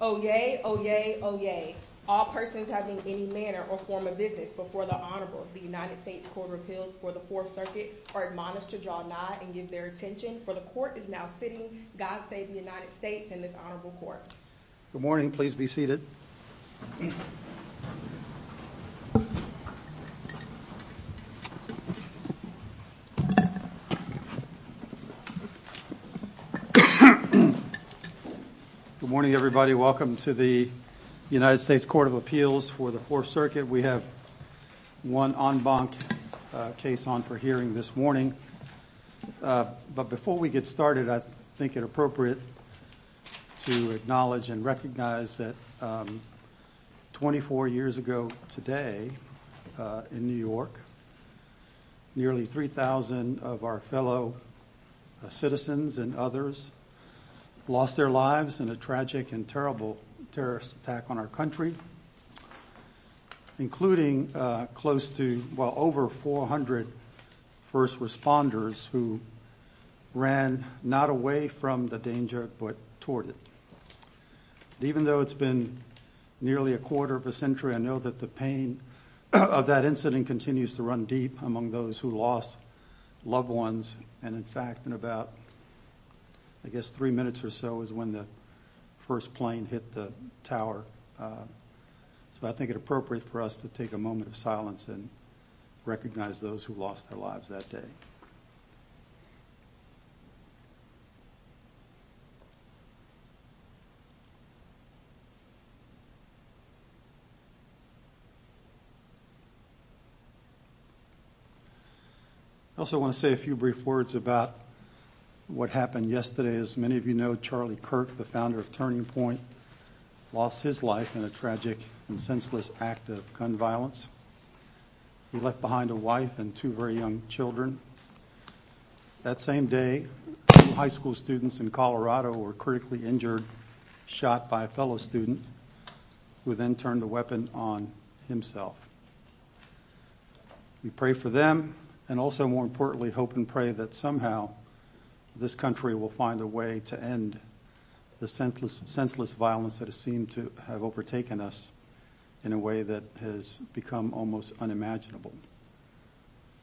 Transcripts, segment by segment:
Oyez, oyez, oyez. All persons having any manner or form of business before the Honorable, the United States Court of Appeals for the Fourth Circuit, are admonished to draw nigh and give their attention, for the Court is now sitting, God save the United States, in this Honorable Court. Good morning, please be seated. Good morning, everybody. Welcome to the United States Court of Appeals for the Fourth Circuit. We have one en banc case on for hearing this morning. But before we get started, I think it appropriate to acknowledge and recognize that 24 years ago today, in New York, nearly 3,000 of our fellow citizens and others lost their lives in a tragic and terrible terrorist attack on our country, including close to, well, over 400 first responders who ran not away from the danger, but toward it. Even though it's been nearly a quarter of a century, I know that the pain of that incident continues to run deep among those who lost loved ones. And in fact, in about, I guess, three minutes or so is when the first plane hit the tower. So I think it appropriate for us to take a moment of silence and recognize those who lost their lives that day. I also want to say a few brief words about what happened yesterday. As many of you know, Charlie Kirk, the founder of Turning Point, lost his life in a tragic and senseless act of gun violence. He left behind a wife and two very young children. That same day, high school students in Colorado were critically injured, shot by a fellow student, who then turned a weapon on himself. We pray for them, and also more importantly, hope and pray that somehow this country will find a way to end the senseless violence that has seemed to have overtaken us in a way that has become almost unimaginable.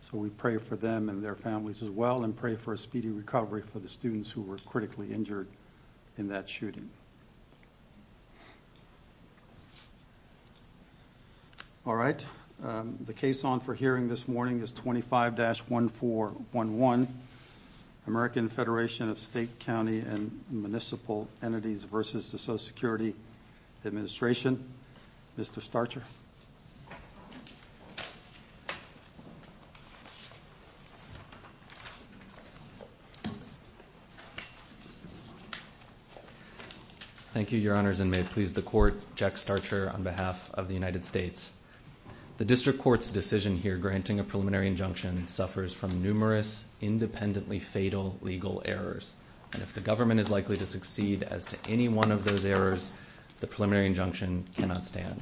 So we pray for them and their families as well, and pray for a speedy recovery for the students who were critically injured in that shooting. All right. The case on for hearing this morning is 25-1411, American Federation of State, County, and Municipal Entities versus the Social Security Administration. Mr. Starcher. Thank you, Your Honors, and may it please the Court, Jack Starcher, on behalf of the United States. The District Court's decision here, granting a preliminary injunction, suffers from numerous independently fatal legal errors, and if the government is likely to succeed as to any one of those errors, the preliminary injunction cannot stand.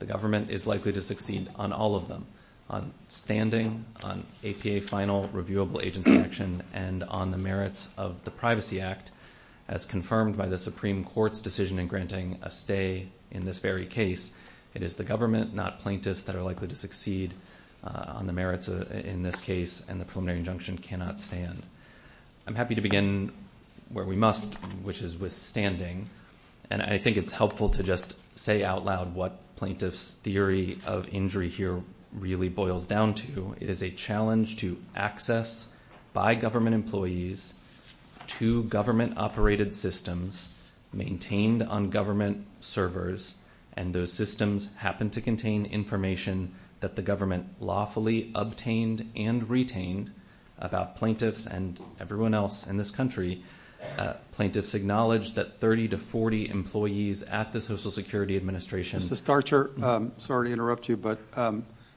The government is likely to succeed on all of them, on standing, on APA final reviewable agency action, and on the merits of the Privacy Act, as confirmed by the Supreme Court's decision in granting a stay in this very case. It is the government, not plaintiffs, that are likely to succeed on the merits in this case, and the preliminary injunction cannot stand. I'm happy to begin where we must, which is with standing, and I think it's helpful to just say out loud what plaintiffs' theory of injury here really boils down to. It is a challenge to access by government employees to government-operated systems maintained on government servers, and those systems happen to contain information that the government lawfully obtained and retained about plaintiffs and everyone else in this country. Plaintiffs acknowledge that 30 to 40 employees at the Social Security Administration... Mr. Starcher, sorry to interrupt you,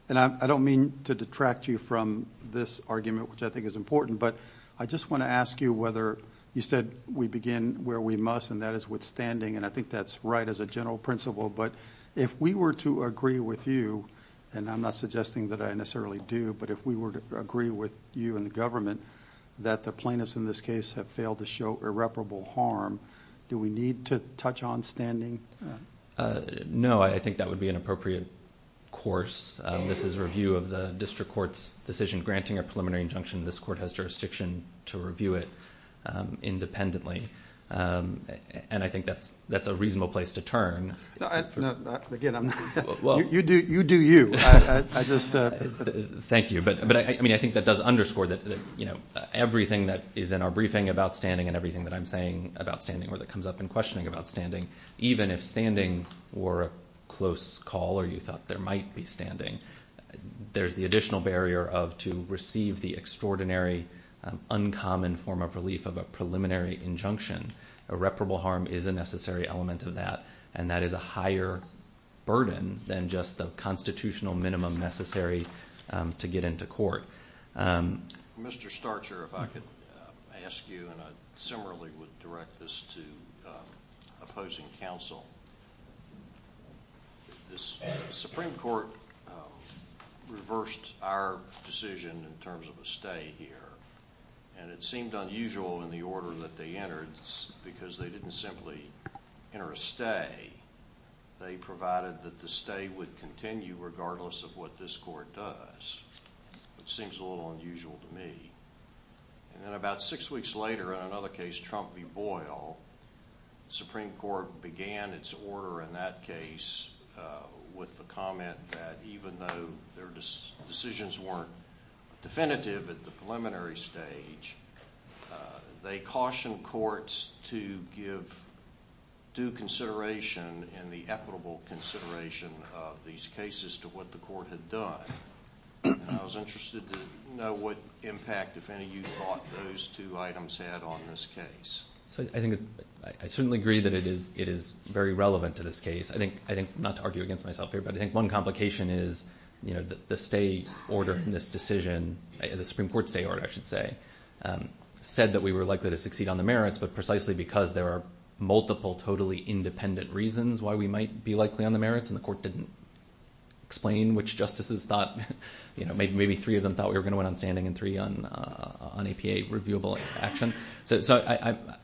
and I don't mean to detract you from this argument, which I think is important, but I just want to ask you whether you said we begin where we must, and that is with standing, and I think that's right as a general principle, but if we were to agree with you, and I'm not suggesting that I necessarily do, but if we were to agree with you and the government that the plaintiffs in this case have failed to show irreparable harm, do we need to touch on standing? No, I think that would be an appropriate course. This is a review of the district court's decision granting a preliminary injunction. This court has jurisdiction to review it independently, and I think that's a reasonable place to turn. Again, you do you. Thank you, but I think that does underscore that everything that is in our briefing about standing and everything that I'm saying about standing, whether it comes up in questioning about standing, even if standing were a close call or you thought there might be standing, there's the additional barrier of to receive the extraordinary, uncommon form of relief of a preliminary injunction. Irreparable harm is a necessary element of that, and that is a higher burden than just the constitutional minimum necessary to get into court. Mr. Starcher, if I could ask you, and I similarly would direct this to opposing counsel. The Supreme Court reversed our decision in terms of a stay here, and it seemed unusual in the order that they entered because they didn't simply enter a stay. They provided that the stay would continue regardless of what this court does. It seems a little unusual to me. About six weeks later, in another case, Trump v. Boyle, the Supreme Court began its order in that case with the comment that even though their decisions weren't definitive at the preliminary stage, they cautioned courts to give due consideration and the equitable consideration of these cases to what the court had done. I was interested to know what impact, if any, you thought those two items had on this case. I certainly agree that it is very relevant to this case. I think, not to argue against myself here, but I think one complication is the stay order in this decision, the Supreme Court stay order, I should say, said that we were likely to succeed on the merits, but precisely because there are multiple totally independent reasons why we might be likely on the merits, and the court didn't explain which justices thought, maybe three of them thought we were going to win on standing and three on APA reviewable action.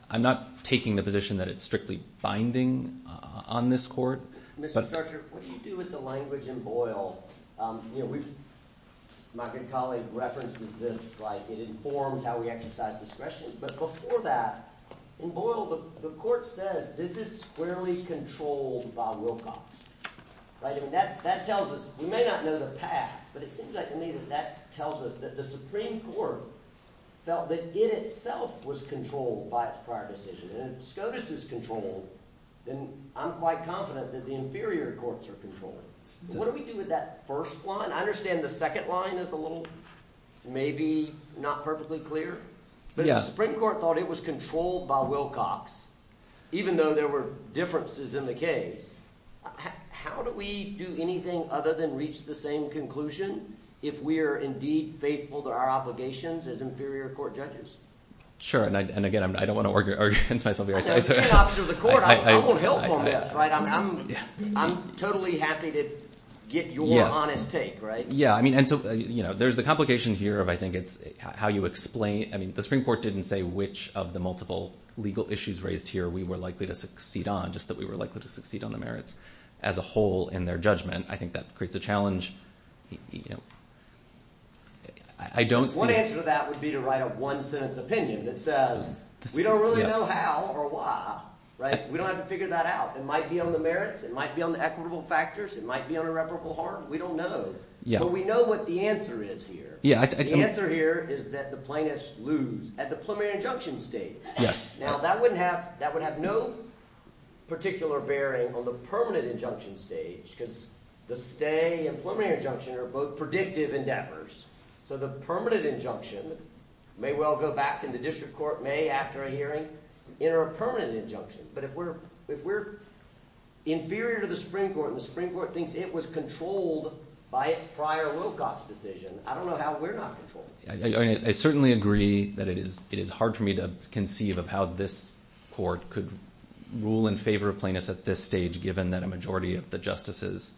I'm not taking the position that it's strictly binding on this court. Mr. Structure, what do you do with the language in Boyle? My good colleague referenced this. It informs how we exercise discretion, but before that, in Boyle, the court says this is squarely controlled by Wilcox. That tells us, we may not know the path, but it seems to me that that tells us that the Supreme Court felt that it itself was controlled by the prior decision, and if SCOTUS is controlled, then I'm quite confident that the inferior courts are controlled. What do we do with that first line? I understand the second line is a little, maybe not perfectly clear, but the Supreme Court thought it was controlled by Wilcox, even though there were differences in the case. How do we do anything other than reach the same conclusion if we are indeed faithful to our obligations as inferior court judges? Sure, and again, I don't want to argue against myself here. I'm totally happy to get your honest take, right? Yeah, I mean, there's the complication here of I think it's how you explain, I mean, the Supreme Court didn't say which of the multiple legal issues raised here we were likely to succeed on, just that we were likely to succeed on the merits as a whole in their judgment. I think that creates a challenge. I don't— One answer to that would be to write a one-sentence opinion that says, we don't really know how or why, right? We don't have to figure that out. It might be on the merits. It might be on the equitable factors. It might be on irreparable harm. We don't know. So we know what the answer is here. The answer here is that the plaintiffs lose at the preliminary injunction stage. Now, that would have no particular bearing on the permanent injunction stage because the stay and preliminary injunction are both predictive endeavors. So the permanent injunction may well go back to the district court May after a hearing in a permanent injunction. But if we're inferior to the Supreme Court and the Supreme Court thinks it was controlled by its prior low-cost decision, I don't know how we're not controlled. I certainly agree that it is hard for me to conceive of how this court could rule in favor of plaintiffs at this stage, given that a majority of the justices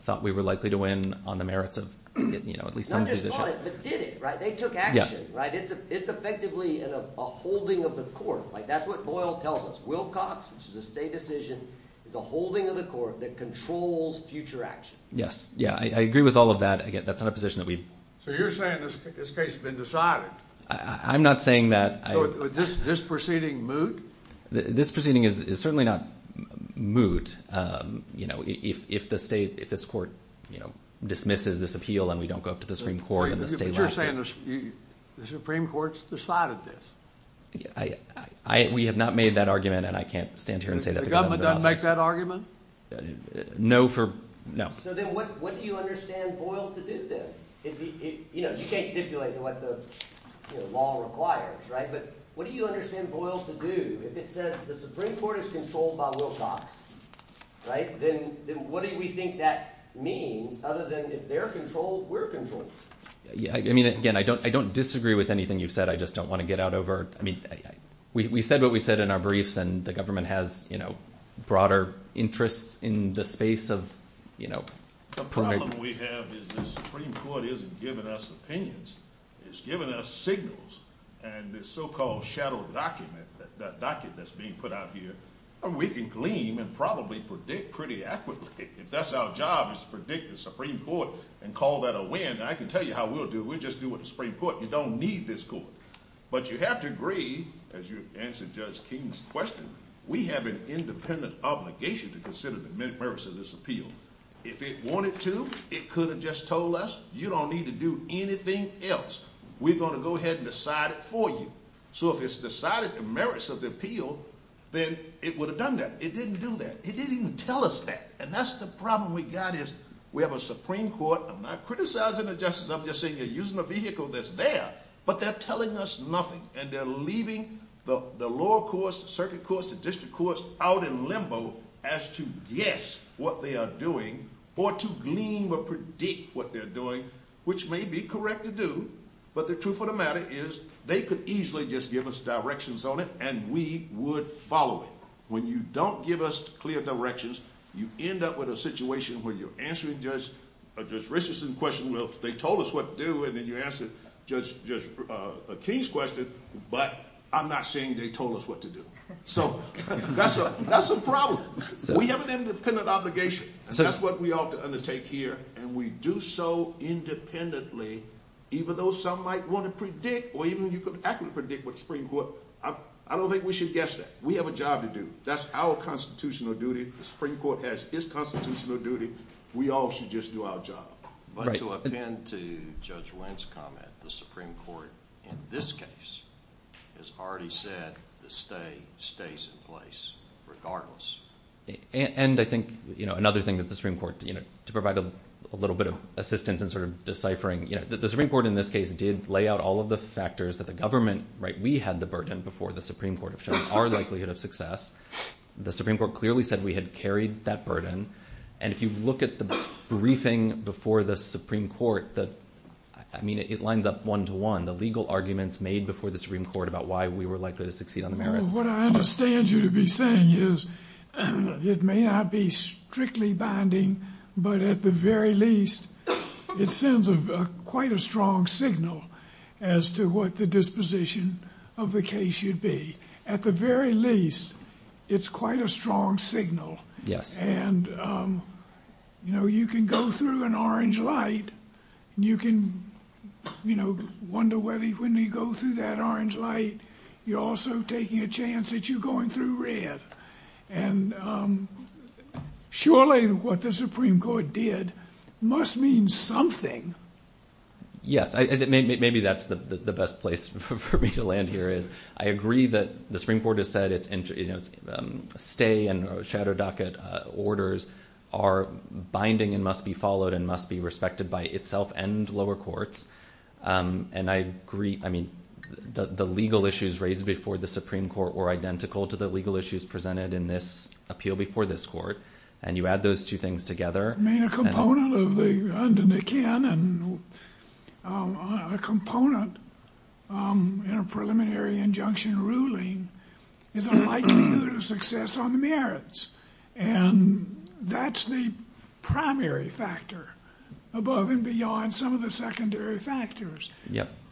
thought we were likely to win on the merits of at least some of these decisions. Not just won, but did it, right? They took action, right? It's effectively a holding of the court. That's what Boyle tells us. Wilcox, which is a state decision, is a holding of the court that controls future action. Yes. Yeah, I agree with all of that. Again, that's not a position that we— So you're saying this case has been decided? I'm not saying that— So is this proceeding moot? This proceeding is certainly not moot. You know, if the state, if this court, you know, dismisses this appeal and we don't go up to the Supreme Court— But you're saying the Supreme Court's decided this? I—we have not made that argument, and I can't stand here and say that the government— The government doesn't make that argument? No, for—no. So then what do you understand Boyle to do, then? You know, you can't stipulate what the law requires, right? But what do you understand Boyle to do? If it says the Supreme Court is controlled by Wilcox, right, then what do we think that means other than if they're controlled, we're controlled? I mean, again, I don't disagree with anything you've said. I just don't want to get out of our—I mean, we said what we said in our briefs, and the government has, you know, broader interests in the space of, you know— The problem we have is the Supreme Court isn't giving us opinions. It's giving us signals, and this so-called shadow document, that document that's being put out here, we can glean and probably predict pretty accurately. If that's our job is to predict the Supreme Court and call that a win, I can tell you how we'll do it. We'll just do what the Supreme Court—we don't need this court. But you have to agree, as you answered Judge King's question, we have an independent obligation to consider the merits of this appeal. If it wanted to, it could have just told us, you don't need to do anything else. We're going to go ahead and decide it for you. So if it's decided the merits of the appeal, then it would have done that. It didn't do that. It didn't even tell us that. And that's the problem we've got is we have a Supreme Court of not criticizing the justices. I'm just saying they're using a vehicle that's there. But they're telling us nothing, and they're leaving the lower courts, the circuit courts, the district courts out in limbo as to guess what they are doing or to glean or predict what they're doing, which may be correct to do. But the truth of the matter is they could easily just give us directions on it, and we would follow it. When you don't give us clear directions, you end up with a situation where you're answering Judge Richardson's question, well, they told us what to do, and then you're answering Judge King's question, but I'm not saying they told us what to do. So that's a problem. We have an independent obligation. That's what we ought to undertake here, and we do so independently, even though some might want to predict or even you could actually predict what the Supreme Court—I don't think we should guess that. We have a job to do. That's our constitutional duty. The Supreme Court has its constitutional duty. We all should just do our job. But to append to Judge Lynch's comment, the Supreme Court in this case has already said the stay stays in place regardless. And I think another thing that the Supreme Court—to provide a little bit of assistance in sort of deciphering—the Supreme Court in this case did lay out all of the factors that the government—we had the burden before the Supreme Court of showing our likelihood of success. The Supreme Court clearly said we had carried that burden, and if you look at the briefing before the Supreme Court, I mean, it lines up one-to-one, the legal arguments made before the Supreme Court about why we were likely to succeed on the merits. So what I understand you to be saying is it may not be strictly binding, but at the very least, it sends quite a strong signal as to what the disposition of the case should be. At the very least, it's quite a strong signal, and you can go through an orange light, and you can wonder whether when you go through that orange light, you're also taking a chance that you're going through red. And surely what the Supreme Court did must mean something. Yes, and maybe that's the best place for me to land here. I agree that the Supreme Court has said its stay and shadow docket orders are binding and must be followed and must be respected by itself and lower courts. And I agree—I mean, the legal issues raised before the Supreme Court were identical to the legal issues presented in this appeal before this court. And you add those two things together— I mean, a component of the McCann and a component in a preliminary injunction ruling is a likelihood of success on the merits. And that's the primary factor above and beyond some of the secondary factors.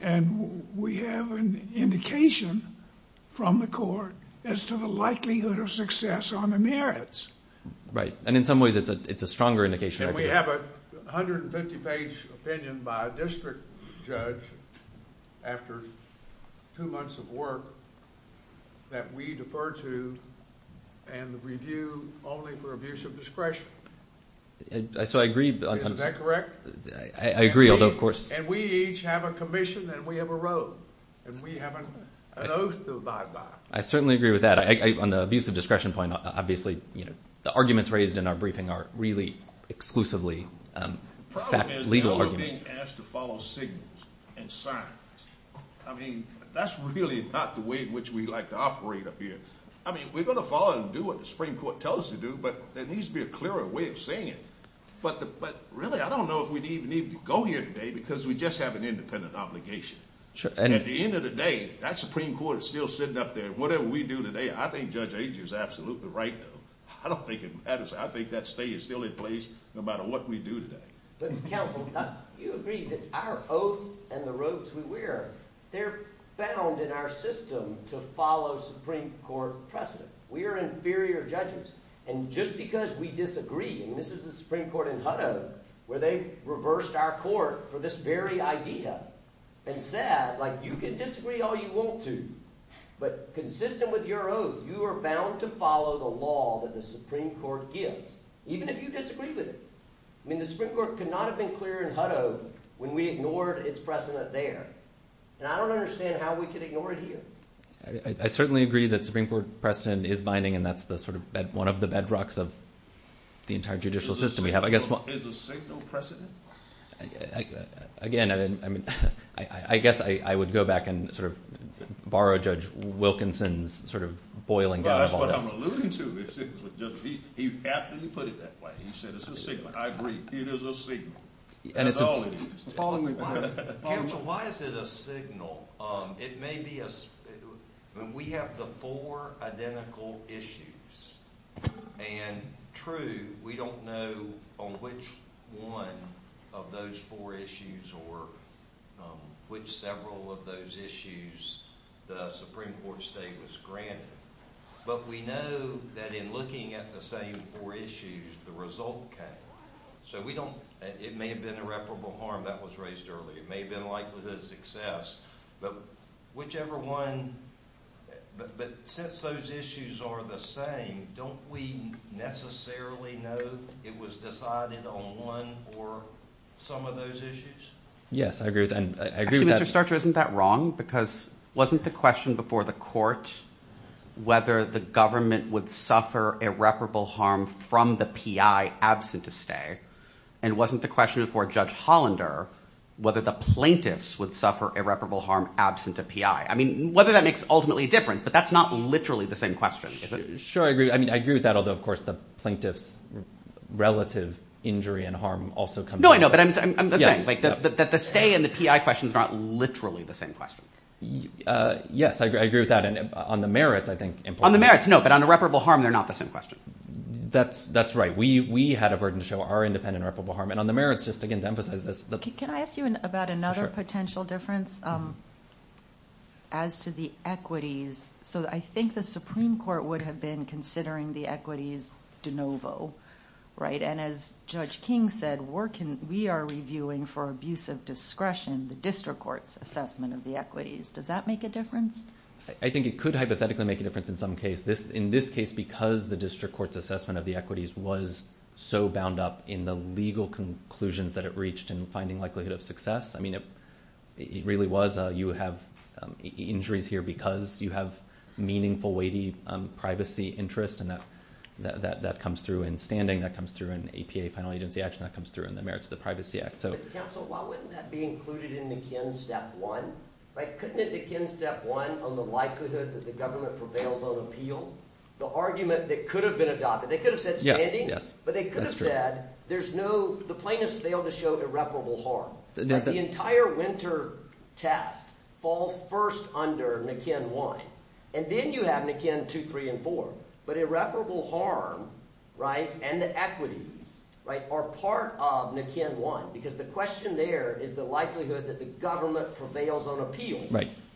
And we have an indication from the court as to the likelihood of success on the merits. Right, and in some ways it's a stronger indication. And we have a 150 page opinion by a district judge after two months of work that we defer to and review only for abuse of discretion. So I agree— Is that correct? I agree, although of course— And we each have a commission and we have a road, and we have an oath to abide by. I certainly agree with that. On the abuse of discretion point, obviously the arguments raised in our briefing are really exclusively legal arguments. The problem is we're being asked to follow signals and signs. I mean, that's really not the way in which we like to operate up here. I mean, we're going to follow and do what the Supreme Court tells us to do, but there needs to be a clearer way of saying it. But really, I don't know if we need to go here today because we just have an independent obligation. At the end of the day, that Supreme Court is still sitting up there. Whatever we do today, I think Judge Ager is absolutely right, though. I don't think it matters. I think that stay is still in place no matter what we do today. But, Counsel, you agree that our oath and the robes we wear, they're found in our system to follow Supreme Court precedent. We are inferior judges. And just because we disagree, and this is the Supreme Court in Hutto, where they reversed our court for this very idea, and said, like, you can disagree all you want to, but consistent with your oath, you are bound to follow the law that the Supreme Court gives, even if you disagree with it. I mean, the Supreme Court could not have been clearer in Hutto when we ignored its precedent there. And I don't understand how we could ignore it here. I certainly agree that Supreme Court precedent is binding, and that's sort of one of the bedrocks of the entire judicial system we have. Is a signal precedent? Again, I guess I would go back and sort of borrow Judge Wilkinson's sort of boiling down of all that. That's what I'm alluding to. He happily put it that way. He said it's a signal. I agree. It is a signal. Counsel, why is it a signal? It may be a signal. We have the four identical issues. And true, we don't know on which one of those four issues or which several of those issues the Supreme Court state was granted. But we know that in looking at the same four issues, the result came. It may have been irreparable harm that was raised earlier. It may have been likelihood of success. But whichever one, but since those issues are the same, don't we necessarily know it was decided on one or some of those issues? Yes, I agree with that. Actually, Mr. Starcher, isn't that wrong? Because wasn't the question before the court whether the government would suffer irreparable harm from the P.I. absent a stay? And wasn't the question before Judge Hollander whether the plaintiffs would suffer irreparable harm absent a P.I.? I mean, whether that makes ultimately a difference, but that's not literally the same question, is it? Sure, I agree. I mean, I agree with that, although, of course, the plaintiff's relative injury and harm also comes up. No, I know, but the stay and the P.I. question is not literally the same question. Yes, I agree with that. And on the merits, I think. On the merits, no, but on irreparable harm, they're not the same question. That's right. We had a burden to show our independent irreparable harm. And on the merits, just again to emphasize this. Can I ask you about another potential difference as to the equities? So I think the Supreme Court would have been considering the equities de novo, right? And as Judge King said, we are reviewing for abuse of discretion the district court's assessment of the equities. Does that make a difference? I think it could hypothetically make a difference in some case. In this case, because the district court's assessment of the equities was so bound up in the legal conclusions that it reached in finding likelihood of success, I mean, it really was you have injuries here because you have meaningful weighty privacy interest, and that comes through in standing. That comes through in APA final agency action. That comes through in the merits of the Privacy Act. Counsel, why wouldn't that be included in Niken Step 1? Couldn't it be Niken Step 1 on the likelihood that the government prevailed on appeal? The argument that could have been adopted. They could have said standing, but they could have said the plaintiffs failed to show irreparable harm. The entire winter test falls first under Niken 1, and then you have Niken 2, 3, and 4. But irreparable harm, right, and the equities, right, are part of Niken 1, because the question there is the likelihood that the government prevails on appeal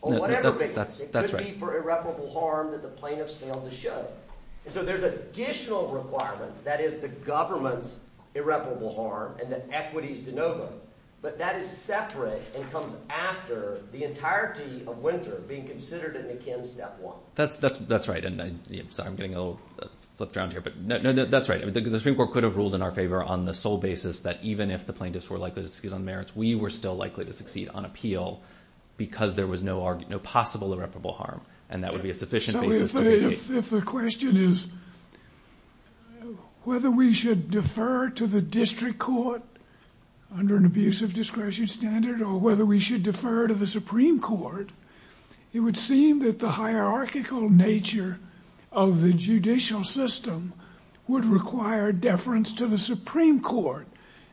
or whatever it is. It could be for irreparable harm that the plaintiffs failed to show. So there's additional requirements, that is, the government's irreparable harm and the equities de novo, but that is separate and comes after the entirety of winter being considered in Niken Step 1. That's right. Sorry, I'm getting a little flipped around here, but that's right. The Supreme Court could have ruled in our favor on the sole basis that even if the plaintiffs were likely to succeed on merits, we were still likely to succeed on appeal because there was no possible irreparable harm, and that would be a sufficient basis. If the question is whether we should defer to the district court under an abusive discretion standard or whether we should defer to the Supreme Court, it would seem that the hierarchical nature of the judicial system would require deference to the Supreme Court,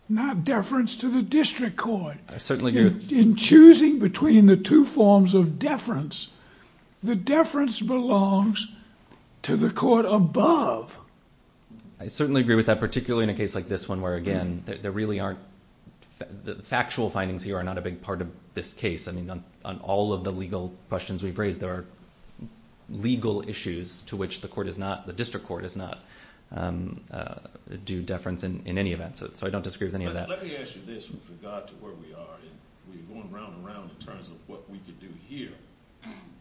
not deference to the district court. In choosing between the two forms of deference, the deference belongs to the court above. I certainly agree with that, particularly in a case like this one where, again, the factual findings here are not a big part of this case. I mean, on all of the legal questions we've raised, there are legal issues to which the district court is not due deference in any event, so I don't disagree with any of that. Let me ask you this. You forgot where we are, and we've gone round and round in terms of what we could do here,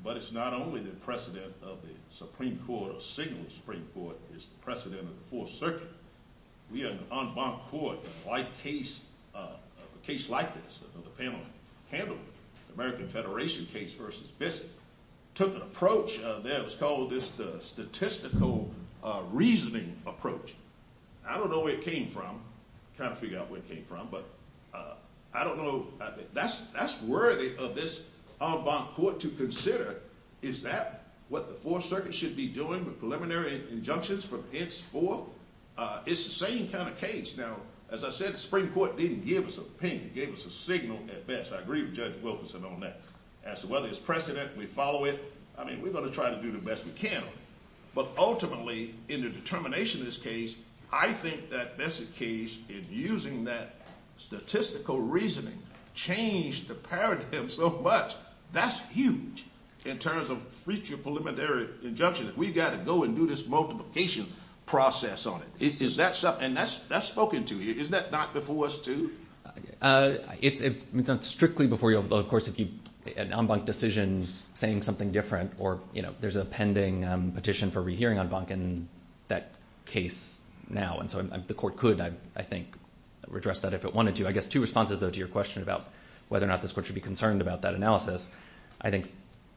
but it's not only the precedent of the Supreme Court or a single Supreme Court. It's the precedent of the Fourth Circuit. We have an en banc court, a case like this, with a panel of candidates, American Federation case versus Bissett, took an approach that was called this statistical reasoning approach. I don't know where it came from. I'm trying to figure out where it came from, but I don't know. That's worthy of this en banc court to consider. Is that what the Fourth Circuit should be doing, the preliminary injunctions for Pence IV? It's the same kind of case. Now, as I said, the Supreme Court didn't give us an opinion. It gave us a signal at best. I agree with Judge Wilkinson on that, as well as precedent. We follow it. I mean, we're going to try to do the best we can, but ultimately in the determination of this case, I think that Bissett case, in using that statistical reasoning, changed the paradigm so much. That's huge in terms of reaching a preliminary injunction. We've got to go and do this multiplication process on it. And that's spoken to you. Isn't that knocked before us, too? It's strictly before you. Of course, if an en banc decision is saying something different or there's a pending petition for rehearing en banc in that case now, and so the court could, I think, redress that if it wanted to. I guess two responses, though, to your question about whether or not this court should be concerned about that analysis. I think,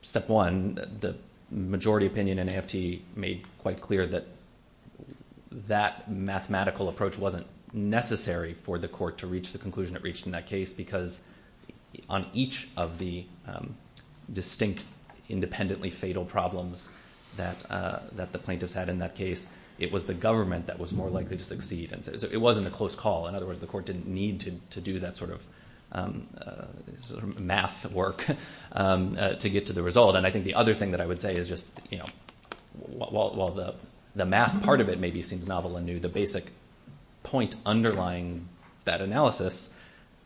step one, the majority opinion in AFT made quite clear that that mathematical approach wasn't necessary for the court to reach the conclusion it reached in that case because on each of the distinct independently fatal problems that the plaintiffs had in that case, it was the government that was more likely to succeed. It wasn't a close call. In other words, the court didn't need to do that sort of math work to get to the result. And I think the other thing that I would say is just, you know, while the math part of it maybe seems novel and new, the basic point underlying that analysis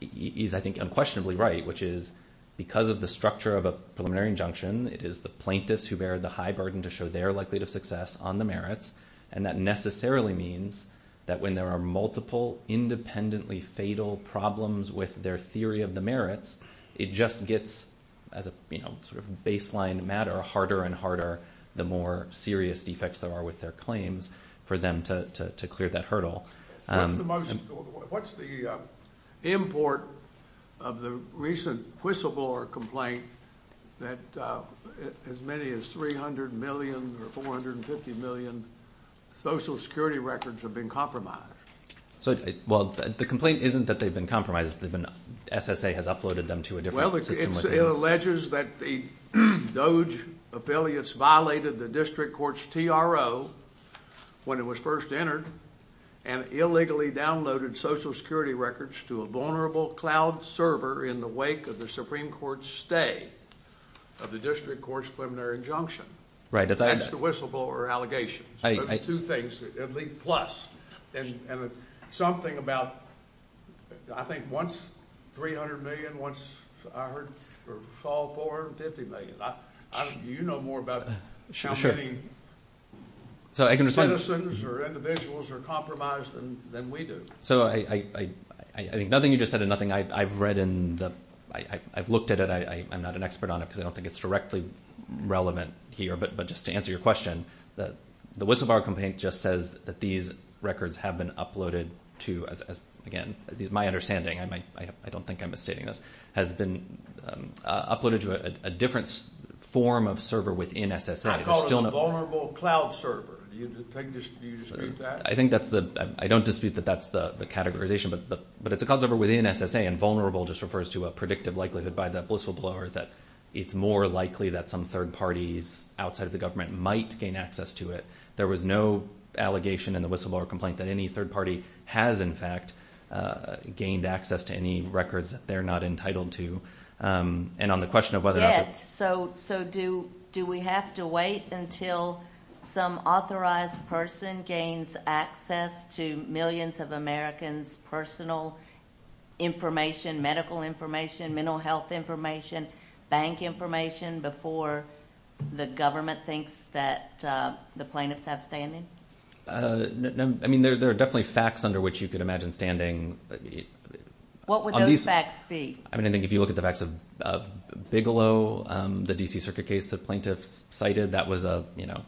is, I think, unquestionably right, which is because of the structure of a preliminary injunction, it is the plaintiffs who bear the high burden to show they're likely to success on the merits, and that necessarily means that when there are multiple independently fatal problems with their theory of the merits, it just gets, as a sort of baseline matter, harder and harder the more serious defects there are with their claims for them to clear that hurdle. What's the import of the recent Quisselbohr complaint that as many as 300 million or 450 million social security records have been compromised? Well, the complaint isn't that they've been compromised. SSA has uploaded them to a different system. Well, it alleges that the Doge affiliates violated the district court's TRO when it was first entered and illegally downloaded social security records to a vulnerable cloud server in the wake of the Supreme Court's stay of the district court's preliminary injunction. Right. That's the Quisselbohr allegations. Two things, at least, plus, and something about, I think, once 300 million, once I heard, or all 450 million. You know more about how many citizens or individuals are compromised than we do. So I think nothing you just said and nothing I've read and I've looked at it, I'm not an expert on it because I don't think it's directly relevant here, but just to answer your question, the Quisselbohr complaint just says that these records have been uploaded to, again, my understanding, I don't think I'm misstating this, has been uploaded to a different form of server within SSA. I call it a vulnerable cloud server. Do you dispute that? I think that's the, I don't dispute that that's the categorization, but it's a cloud server within SSA, and vulnerable just refers to a predictive likelihood by the Quisselbohr that it's more likely that some third parties outside of the government might gain access to it. There was no allegation in the Quisselbohr complaint that any third party has, in fact, gained access to any records that they're not entitled to. And on the question of whether or not. Yes, so do we have to wait until some authorized person gains access to millions of Americans' personal information, medical information, mental health information, bank information before the government thinks that the plaintiffs have standing? I mean, there are definitely facts under which you could imagine standing. What would those facts be? I mean, if you look at the facts of Bigelow, the D.C. Circuit case, the plaintiff cited that was, you know,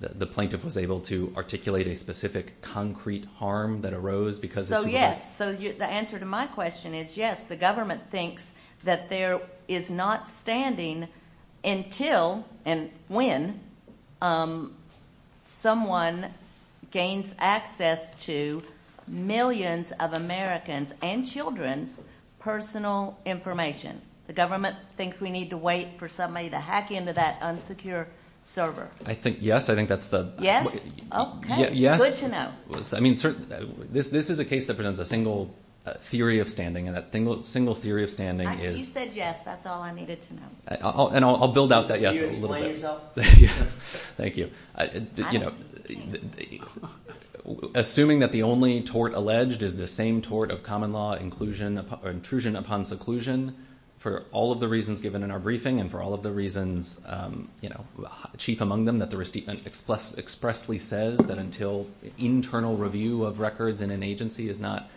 the plaintiff was able to articulate a specific concrete harm that arose. So yes, the answer to my question is yes, the government thinks that there is not standing until and when someone gains access to millions of Americans' and children's personal information. The government thinks we need to wait for somebody to hack into that unsecure server. I think yes, I think that's the. Yes? Okay, good to know. I mean, this is a case that presents a single theory of standing, and a single theory of standing is. You said yes, that's all I needed to know. And I'll build out that, yes, a little bit. Thank you. Assuming that the only tort alleged is the same tort of common law inclusion or intrusion upon seclusion for all of the reasons given in our briefing and for all of the reasons, you know, chief among them, that the receipt expressly says that until internal review of records in an agency is not.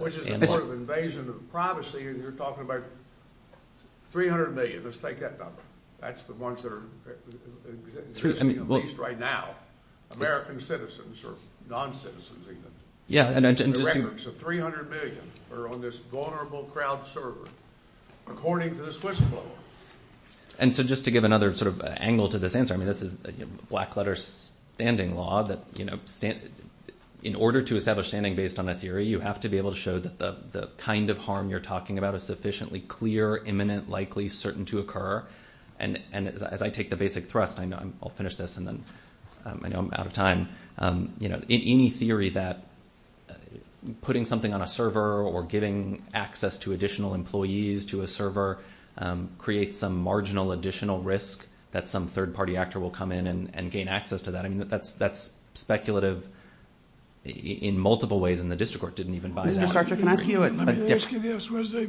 Which is a sort of invasion of privacy, and you're talking about 300 million. Let's take that number. That's the ones that are being used right now. American citizens or non-citizens even. Yeah. Records of 300 million are on this vulnerable crowd server, according to this whistleblower. And so just to give another sort of angle to this answer, I mean, this is black letter standing law that, you know, in order to establish standing based on that theory, you have to be able to show that the kind of harm you're talking about is sufficiently clear, imminent, likely, certain to occur. And as I take the basic thrust, I know I'll finish this and then I know I'm out of time. You know, any theory that putting something on a server or giving access to additional employees to a server creates some marginal additional risk, that some third-party actor will come in and gain access to that. I mean, that's speculative in multiple ways, and the district court didn't even find that. Mr. Archer, can I ask you this? Was there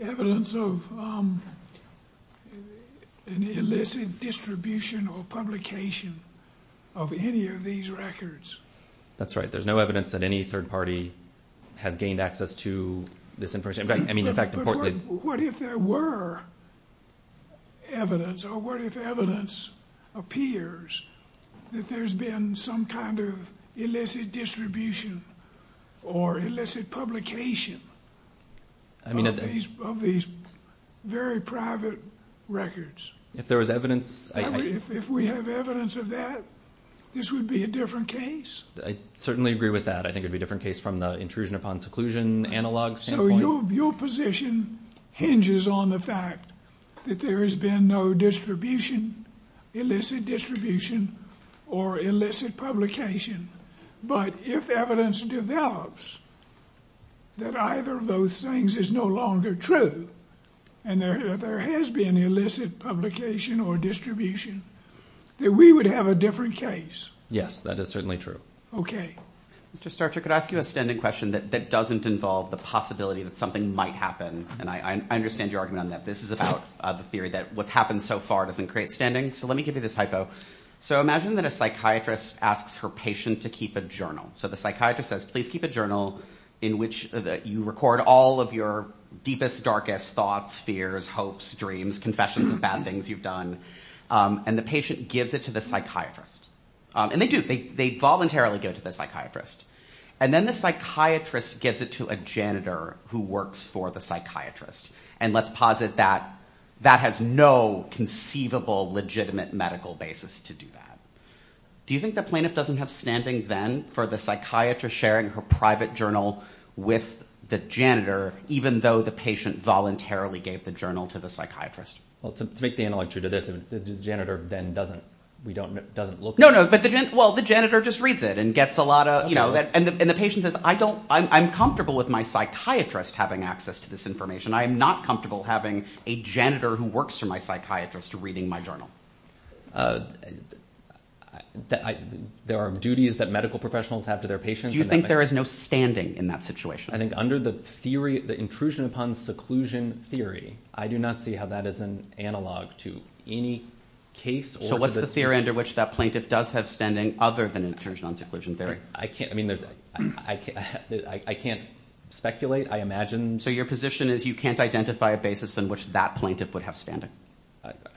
evidence of an illicit distribution or publication of any of these records? That's right. There's no evidence that any third party has gained access to this information. What if there were evidence or what if evidence appears that there's been some kind of illicit distribution or illicit publication of these very private records? If there was evidence... If we have evidence of that, this would be a different case? I certainly agree with that. I think it would be a different case from the intrusion upon seclusion analog. So your position hinges on the fact that there has been no distribution, illicit distribution, or illicit publication. But if evidence develops that either of those things is no longer true, and there has been illicit publication or distribution, then we would have a different case. Yes, that is certainly true. Okay. Mr. Archer, could I ask you a standing question that doesn't involve the possibility that something might happen? And I understand your argument on that. This is about the theory that what's happened so far doesn't create standing. So let me give you this hypo. So imagine that a psychiatrist asks her patient to keep a journal. So the psychiatrist says, please keep a journal in which you record all of your deepest, darkest thoughts, fears, hopes, dreams, confessions of bad things you've done. And the patient gives it to the psychiatrist. And they do. They voluntarily give it to the psychiatrist. And then the psychiatrist gives it to a janitor who works for the psychiatrist. And let's posit that that has no conceivable legitimate medical basis to do that. Do you think the plaintiff doesn't have standing then for the psychiatrist sharing her private journal with the janitor, even though the patient voluntarily gave the journal to the psychiatrist? Well, to make the analogy to this, the janitor then doesn't look at it. No, no. Well, the janitor just reads it and gets a lot of, you know. And the patient says, I'm comfortable with my psychiatrist having access to this information. I am not comfortable having a janitor who works for my psychiatrist reading my journal. There are duties that medical professionals have to their patients. Do you think there is no standing in that situation? I think under the theory, the intrusion upon seclusion theory, I do not see how that is an analog to any case. So what's the theory under which that plaintiff does have standing other than intrusion on seclusion theory? I can't speculate. I imagine. So your position is you can't identify a basis in which that plaintiff would have standing.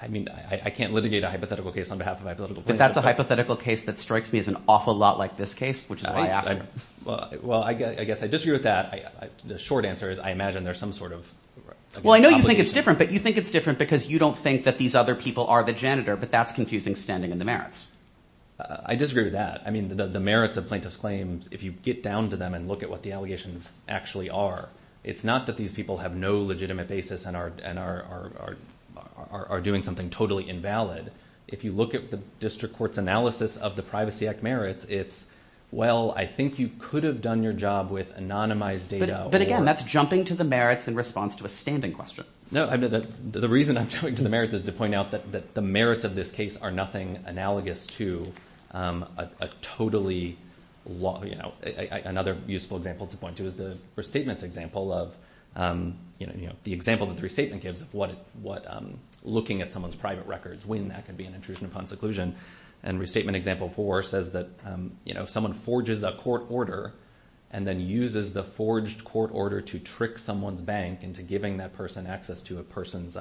I mean, I can't litigate a hypothetical case on behalf of a hypothetical case. If that's a hypothetical case that strikes me as an awful lot like this case, which is why I asked. Well, I guess I disagree with that. The short answer is I imagine there's some sort of. Well, I know you think it's different, but you think it's different because you don't think that these other people are the janitor. But that's confusing standing in the merits. I disagree with that. I mean, the merits of plaintiff's claims, if you get down to them and look at what the allegations actually are, it's not that these people have no legitimate basis and are doing something totally invalid. If you look at the district court's analysis of the Privacy Act merits, it's, well, I think you could have done your job with anonymized data. But again, that's jumping to the merits in response to a standing question. No, the reason I'm jumping to the merits is to point out that the merits of this case are nothing analogous to a totally. You know, another useful example to point to is the first statement example of, you know, the example that the restatement gives is looking at someone's private records, when that could be an intrusion upon seclusion. And restatement example four says that, you know, someone forges a court order and then uses the forged court order to trick someone's bank into giving that person access to a person's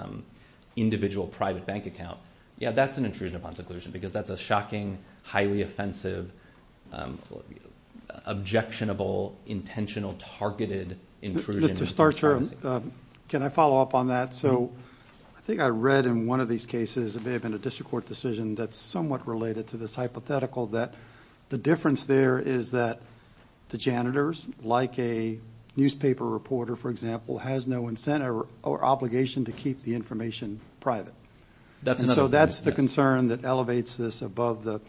individual private bank account. Yeah, that's an intrusion upon seclusion because that's a shocking, highly offensive, objectionable, intentional, targeted intrusion upon seclusion. Mr. Starcher, can I follow up on that? So I think I read in one of these cases, it may have been a district court decision, that's somewhat related to this hypothetical that the difference there is that the janitors, like a newspaper reporter, for example, has no incentive or obligation to keep the information private. So that's the concern that elevates this above the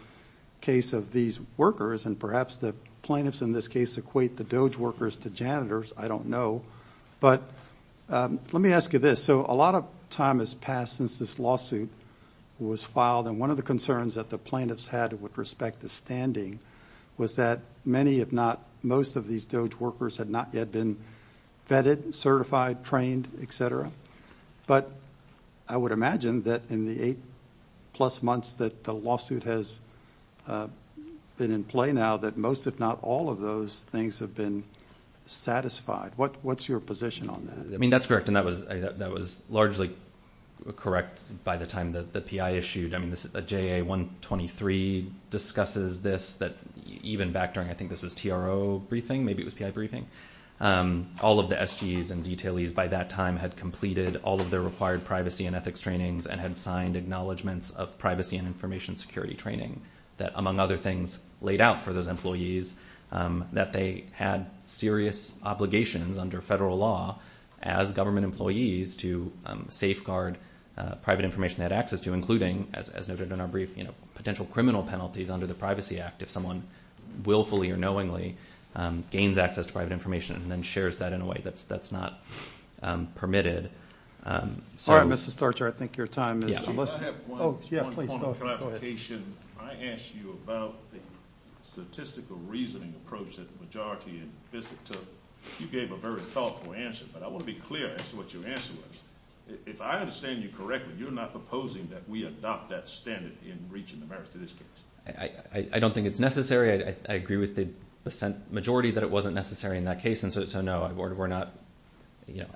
case of these workers, and perhaps the plaintiffs in this case equate the DOJ workers to janitors, I don't know. But let me ask you this. So a lot of time has passed since this lawsuit was filed, and one of the concerns that the plaintiffs had with respect to standing was that many, if not most, of these DOJ workers had not yet been vetted, certified, trained, et cetera. But I would imagine that in the eight-plus months that the lawsuit has been in play now, that most, if not all, of those things have been satisfied. What's your position on that? I mean, that's correct, and that was largely correct by the time the PI issued. I mean, JA 123 discusses this, that even back during, I think this was TRO briefing, maybe it was PI briefing, all of the SGEs and detailees by that time had completed all of their required privacy and ethics trainings and had signed acknowledgments of privacy and information security training that, among other things, laid out for those employees that they had serious obligations under federal law as government employees to safeguard private information they had access to, including, as noted in our brief, potential criminal penalties under the Privacy Act if someone willfully or knowingly gains access to private information and then shares that in a way that's not permitted. Sorry, Mr. Storcher, I think your time has elapsed. I have one clarification. I asked you about the statistical reasoning approach that the majority of you took. You gave a very thoughtful answer, but I want to be clear, that's what your answer was. If I understand you correctly, you're not proposing that we adopt that standard in reaching the merit of this case? I don't think it's necessary. I agree with the majority that it wasn't necessary in that case, and so, no, we're not.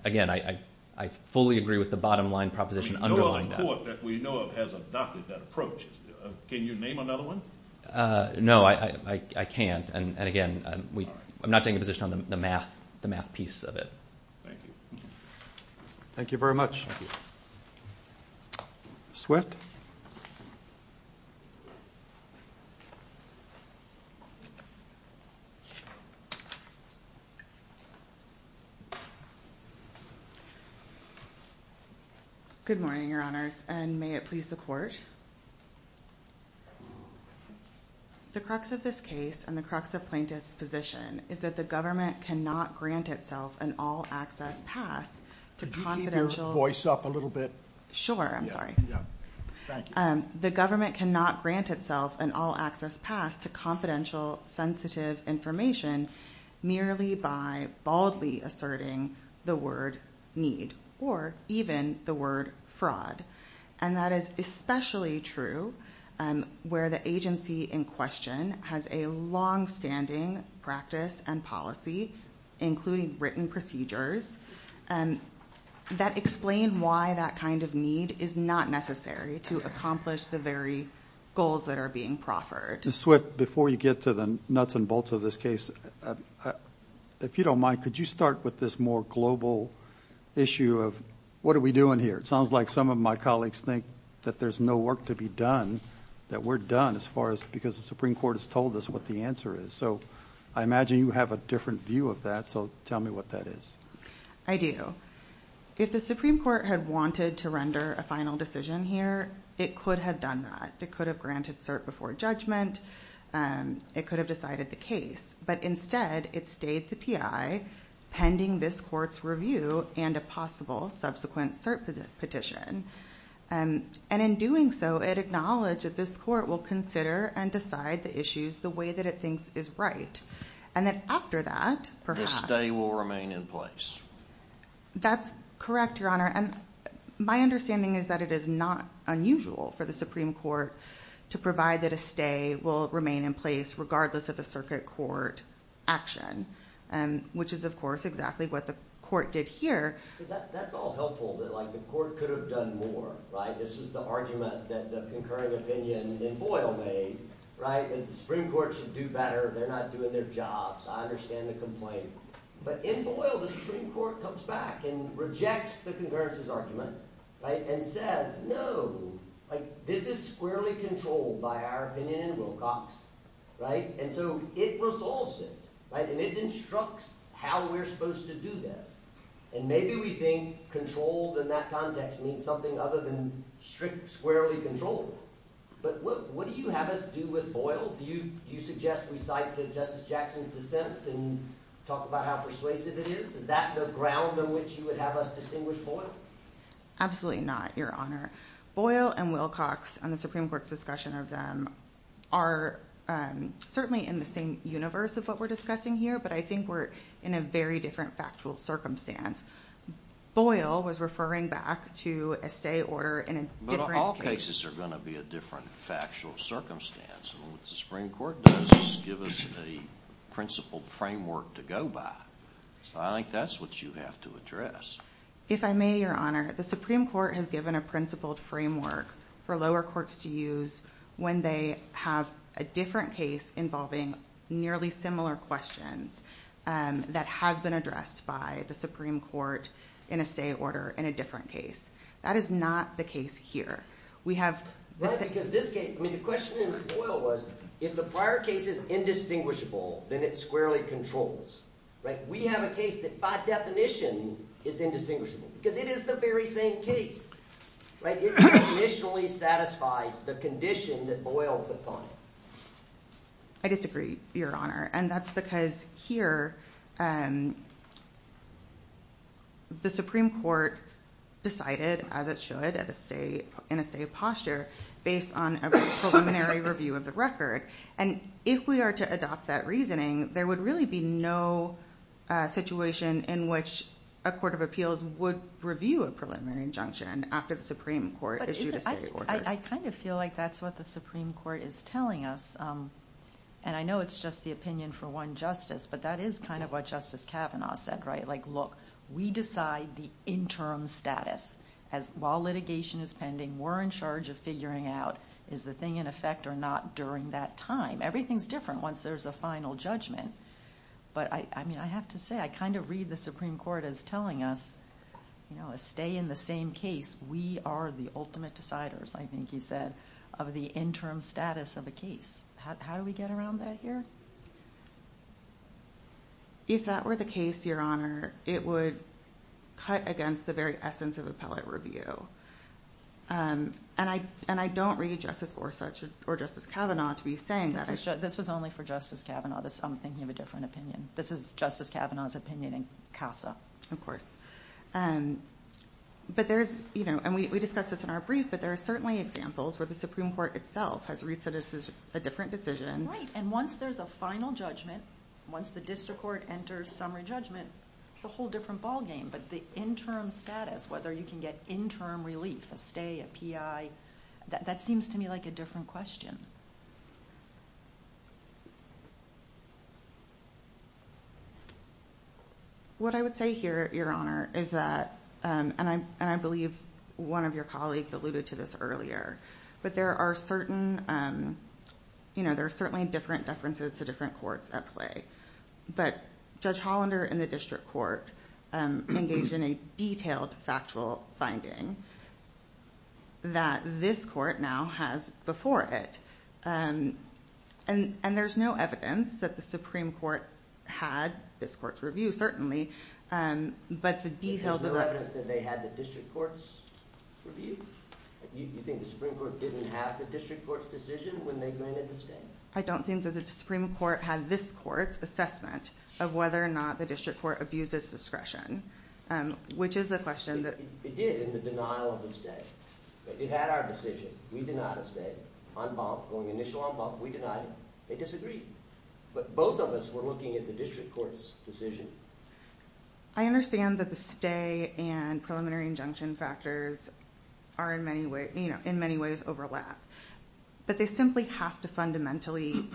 Again, I fully agree with the bottom line proposition underlying that. We know of court that we know of has adopted that approach. Can you name another one? No, I can't. And, again, I'm not taking a position on the math piece of it. Thank you. Thank you very much. Swift. Good morning, Your Honors, and may it please the Court. The crux of this case and the crux of plaintiff's position is that the government cannot grant itself an all-access pass Can you keep your voice up a little bit? Sure, I'm sorry. Thank you. The government cannot grant itself an all-access pass to confidential, sensitive information merely by baldly asserting the word need or even the word fraud. And that is especially true where the agency in question has a longstanding practice and policy, including written procedures, that explain why that kind of need is not necessary to accomplish the very goals that are being proffered. Ms. Swift, before you get to the nuts and bolts of this case, if you don't mind, could you start with this more global issue of, what are we doing here? It sounds like some of my colleagues think that there's no work to be done, that we're done because the Supreme Court has told us what the answer is. So I imagine you have a different view of that, so tell me what that is. I do. If the Supreme Court had wanted to render a final decision here, it could have done that. It could have granted cert before judgment. It could have decided the case. But instead, it stayed the TI pending this court's review and a possible subsequent cert petition. And in doing so, it acknowledged that this court will consider and decide the issues the way that it thinks is right. The stay will remain in place. That's correct, Your Honor. And my understanding is that it is not unusual for the Supreme Court to provide that a stay will remain in place regardless of a circuit court action, which is, of course, exactly what the court did here. That's all helpful. The court could have done more. This is the argument that the concurrent opinion in Boyle made. And the Supreme Court should do better. They're not doing their jobs. I understand the complaint. But in Boyle, the Supreme Court comes back and rejects the concurrence's argument and says, no, this is squarely controlled by our opinion in Wilcox. And so it resolves it. And it instructs how we're supposed to do that. And maybe we think controlled in that context means something other than strictly squarely controlled. But what do you have us do with Boyle? Do you suggest we cite Justice Jackson's defense and talk about how persuasive it is? Is that the ground on which you would have us distinguish Boyle? Absolutely not, Your Honor. Boyle and Wilcox and the Supreme Court's discussion of them are certainly in the same universe of what we're discussing here, but I think we're in a very different factual circumstance. Boyle was referring back to a stay order in a different case. These cases are going to be a different factual circumstance. And what the Supreme Court does is give us a principled framework to go by. So I think that's what you have to address. If I may, Your Honor, the Supreme Court has given a principled framework for lower courts to use when they have a different case involving nearly similar questions that have been addressed by the Supreme Court in a stay order in a different case. That is not the case here. The question in Boyle was, if the prior case is indistinguishable, then it squarely controls. We have a case that by definition is indistinguishable because it is the very same case. It can initially satisfy the condition that Boyle put on it. I disagree, Your Honor. And that's because here the Supreme Court decided, as it should, in a stay posture, based on a preliminary review of the record. And if we are to adopt that reasoning, there would really be no situation in which a court of appeals would review a preliminary injunction after the Supreme Court issued a stay order. I kind of feel like that's what the Supreme Court is telling us. And I know it's just the opinion for one justice, but that is kind of what Justice Kavanaugh said, right? Like, look, we decide the interim status. While litigation is pending, we're in charge of figuring out is the thing in effect or not during that time. Everything's different once there's a final judgment. But, I mean, I have to say, I kind of read the Supreme Court as telling us, you know, stay in the same case. We are the ultimate deciders, I think he said, of the interim status of a case. How do we get around that here? If that were the case, Your Honor, it would cut against the very essence of a polite review. And I don't read Justice Gorsuch or Justice Kavanaugh to be saying that. This was only for Justice Kavanaugh. I'm thinking of a different opinion. This is Justice Kavanaugh's opinion in CASA, of course. But there's, you know, and we discussed this in our brief, that there are certainly examples where the Supreme Court itself has recited a different decision. Right, and once there's a final judgment, once the district court enters summary judgment, it's a whole different ballgame. But the interim status, whether you can get interim relief, a stay, a PI, that seems to me like a different question. What I would say here, Your Honor, is that, and I believe one of your colleagues alluded to this earlier, that there are certain, you know, there are certainly different differences to different courts at play. But Judge Hollander in the district court engaged in a detailed factual finding that this court now has before it. And there's no evidence that the Supreme Court had this court's review, certainly, but the details of... There's no evidence that they had the district court's review? You think the Supreme Court didn't have the district court's decision when they granted the stay? I don't think that the Supreme Court had this court's assessment of whether or not the district court abused its discretion, which is a question that... It did, in the denial of the stay. If it had our decision, we did not have a stay, unvolved, or the initial unvolved, we denied it, they disagreed. But both of us were looking at the district court's decision I understand that the stay and preliminary injunction factors are in many ways, you know, in many ways overlap. But they simply have to fundamentally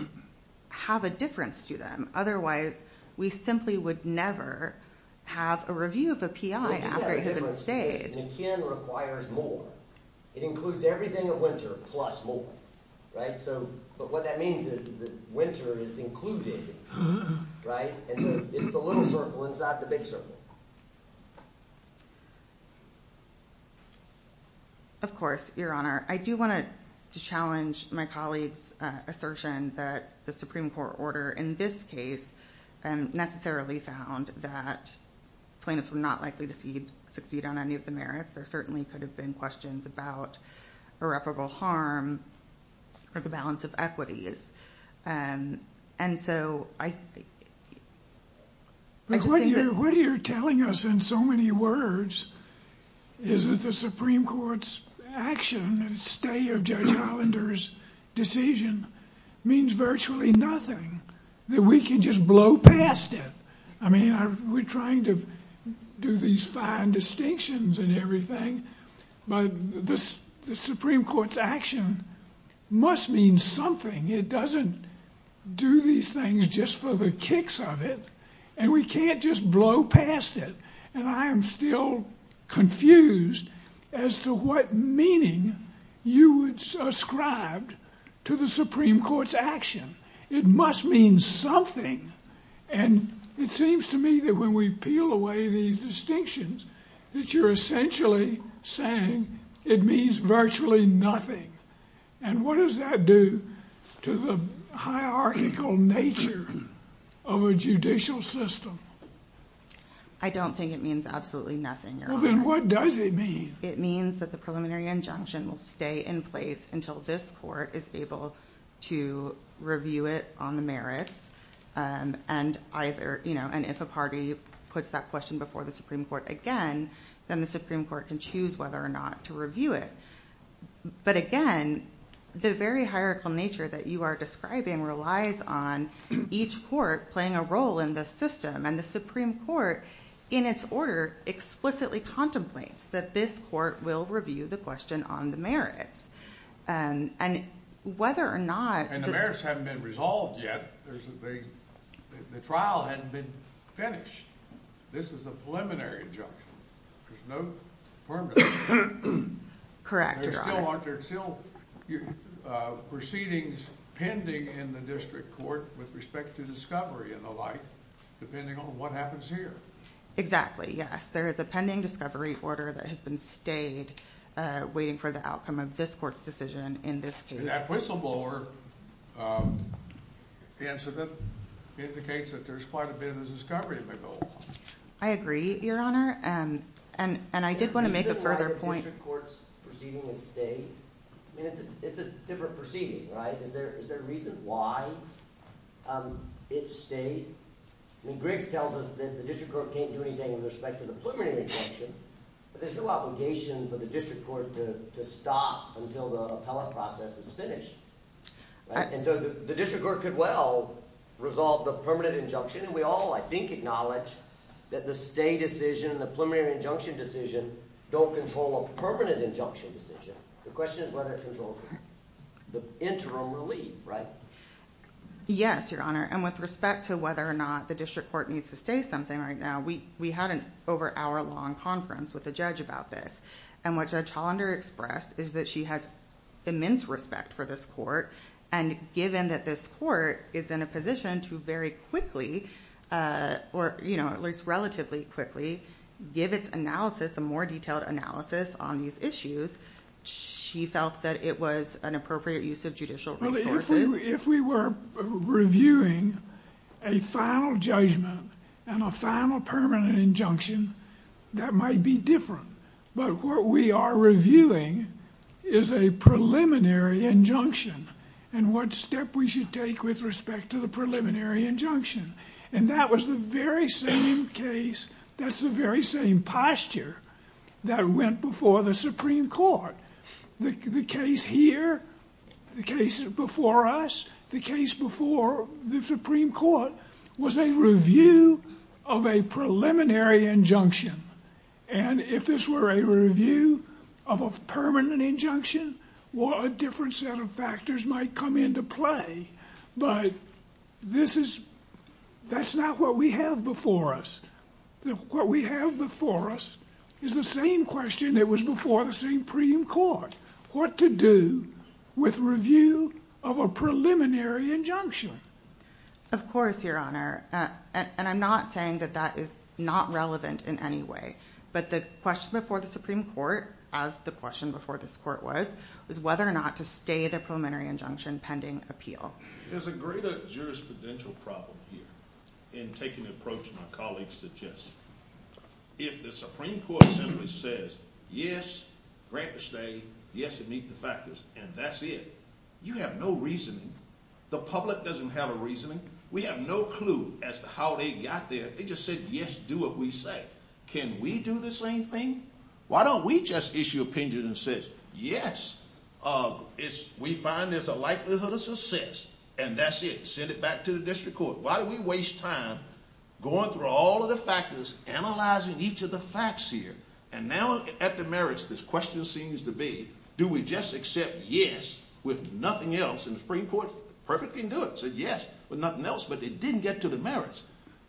have a difference to them. Otherwise, we simply would never have a review of the PI after a certain stay. The stay in the pen requires more. It includes everything of winter, plus more, right? So, but what that means is that winter is included, right? And it's a little circle inside the big circle. Of course, Your Honor. I do want to challenge my colleague's assertion that the Supreme Court order in this case necessarily found that plaintiffs were not likely to succeed on any of the merits. There certainly could have been questions about irreparable harm or the balance of equities. And so, I think... What you're telling us in so many words is that the Supreme Court's action and stay of Judge Hollander's decision means virtually nothing. That we can just blow past it. I mean, we're trying to do these fine distinctions and everything. But the Supreme Court's action must mean something. It doesn't do these things just for the kicks of it. And we can't just blow past it. And I am still confused as to what meaning you would ascribe to the Supreme Court's action. It must mean something. And it seems to me that when we peel away these distinctions, that you're essentially saying it means virtually nothing. And what does that do to the hierarchical nature of a judicial system? I don't think it means absolutely nothing, Your Honor. Then what does it mean? It means that the preliminary injunction will stay in place until this court is able to review it on the merits. And if a party puts that question before the Supreme Court again, then the Supreme Court can choose whether or not to review it. But again, the very hierarchical nature that you are describing relies on each court playing a role in the system. And the Supreme Court, in its order, explicitly contemplates that this court will review the question on the merits. And whether or not... And the merits haven't been resolved yet. The trial hasn't been finished. This is a preliminary injunction. There's no permit. Correct, Your Honor. There are still proceedings pending in the district court with respect to discovery and the like, depending on what happens here. Exactly, yes. There is a pending discovery order that has been staged waiting for the outcome of this court's decision in this case. That whistleblower incident indicates that there's quite a bit of discovery in the goal. I agree, Your Honor. And I did want to make a further point. Isn't that why the district court's proceeding is staged? I mean, it's a different proceeding, right? Is there a reason why it's staged? I mean, Griggs tells us that the district court can't do anything with respect to the preliminary injunction, but there's no obligation for the district court to stop until the appellate process is finished. And so the district court could well resolve the permanent injunction, but shouldn't we all, I think, acknowledge that the stay decision and the preliminary injunction decision don't control the permanent injunction decision? The question is whether it controls the interim relief, right? Yes, Your Honor, and with respect to whether or not the district court needs to say something right now, we had an over-hour-long conference with the judge about this. And what Judge Hollander expressed is that she has immense respect for this court, and given that this court is in a position to very quickly, or at least relatively quickly, give its analysis, a more detailed analysis on these issues, she felt that it was an appropriate use of judicial resources. If we were reviewing a final judgment and a final permanent injunction, that might be different. But what we are reviewing is a preliminary injunction, and what step we should take with respect to the preliminary injunction. And that was the very same case, that's the very same posture that went before the Supreme Court. The case here, the case before us, the case before the Supreme Court was a review of a preliminary injunction. And if this were a review of a permanent injunction, a different set of factors might come into play, but that's not what we have before us. What we have before us is the same question that was before the Supreme Court, what to do with review of a preliminary injunction. Of course, Your Honor. And I'm not saying that that is not relevant in any way, but the question before the Supreme Court, as the question before this Court was, was whether or not to stay the preliminary injunction pending appeal. There's a greater jurisprudential problem here in taking the approach my colleagues suggest. If the Supreme Court says, yes, grant the stay, yes, it meets the factors, and that's it, you have no reasoning. The public doesn't have a reasoning. We have no clue as to how they got there. They just said, yes, do what we say. Can we do the same thing? Why don't we just issue opinions and say, yes, we find there's a likelihood of success, and that's it. Send it back to the district court. Why do we waste time going through all of the factors, analyzing each of the facts here? And now at the merits, this question seems to be, do we just accept yes with nothing else? And the Supreme Court perfectly knew it. It said yes with nothing else, but they didn't get to the merits.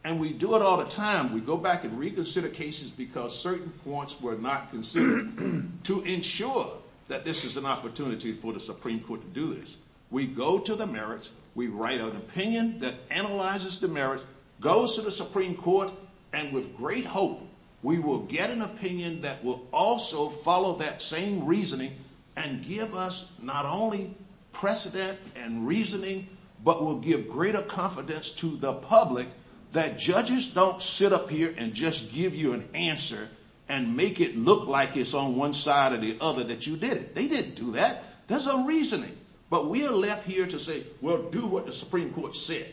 And we do it all the time. We go back and reconsider cases because certain points were not considered. To ensure that this is an opportunity for the Supreme Court to do this, we go to the merits. We write an opinion that analyzes the merits, goes to the Supreme Court, and with great hope, we will get an opinion that will also follow that same reasoning and give us not only precedent and reasoning, but will give greater confidence to the public that judges don't sit up here and just give you an answer and make it look like it's on one side or the other that you didn't. They didn't do that. There's no reasoning. But we're left here to say, well, do what the Supreme Court said.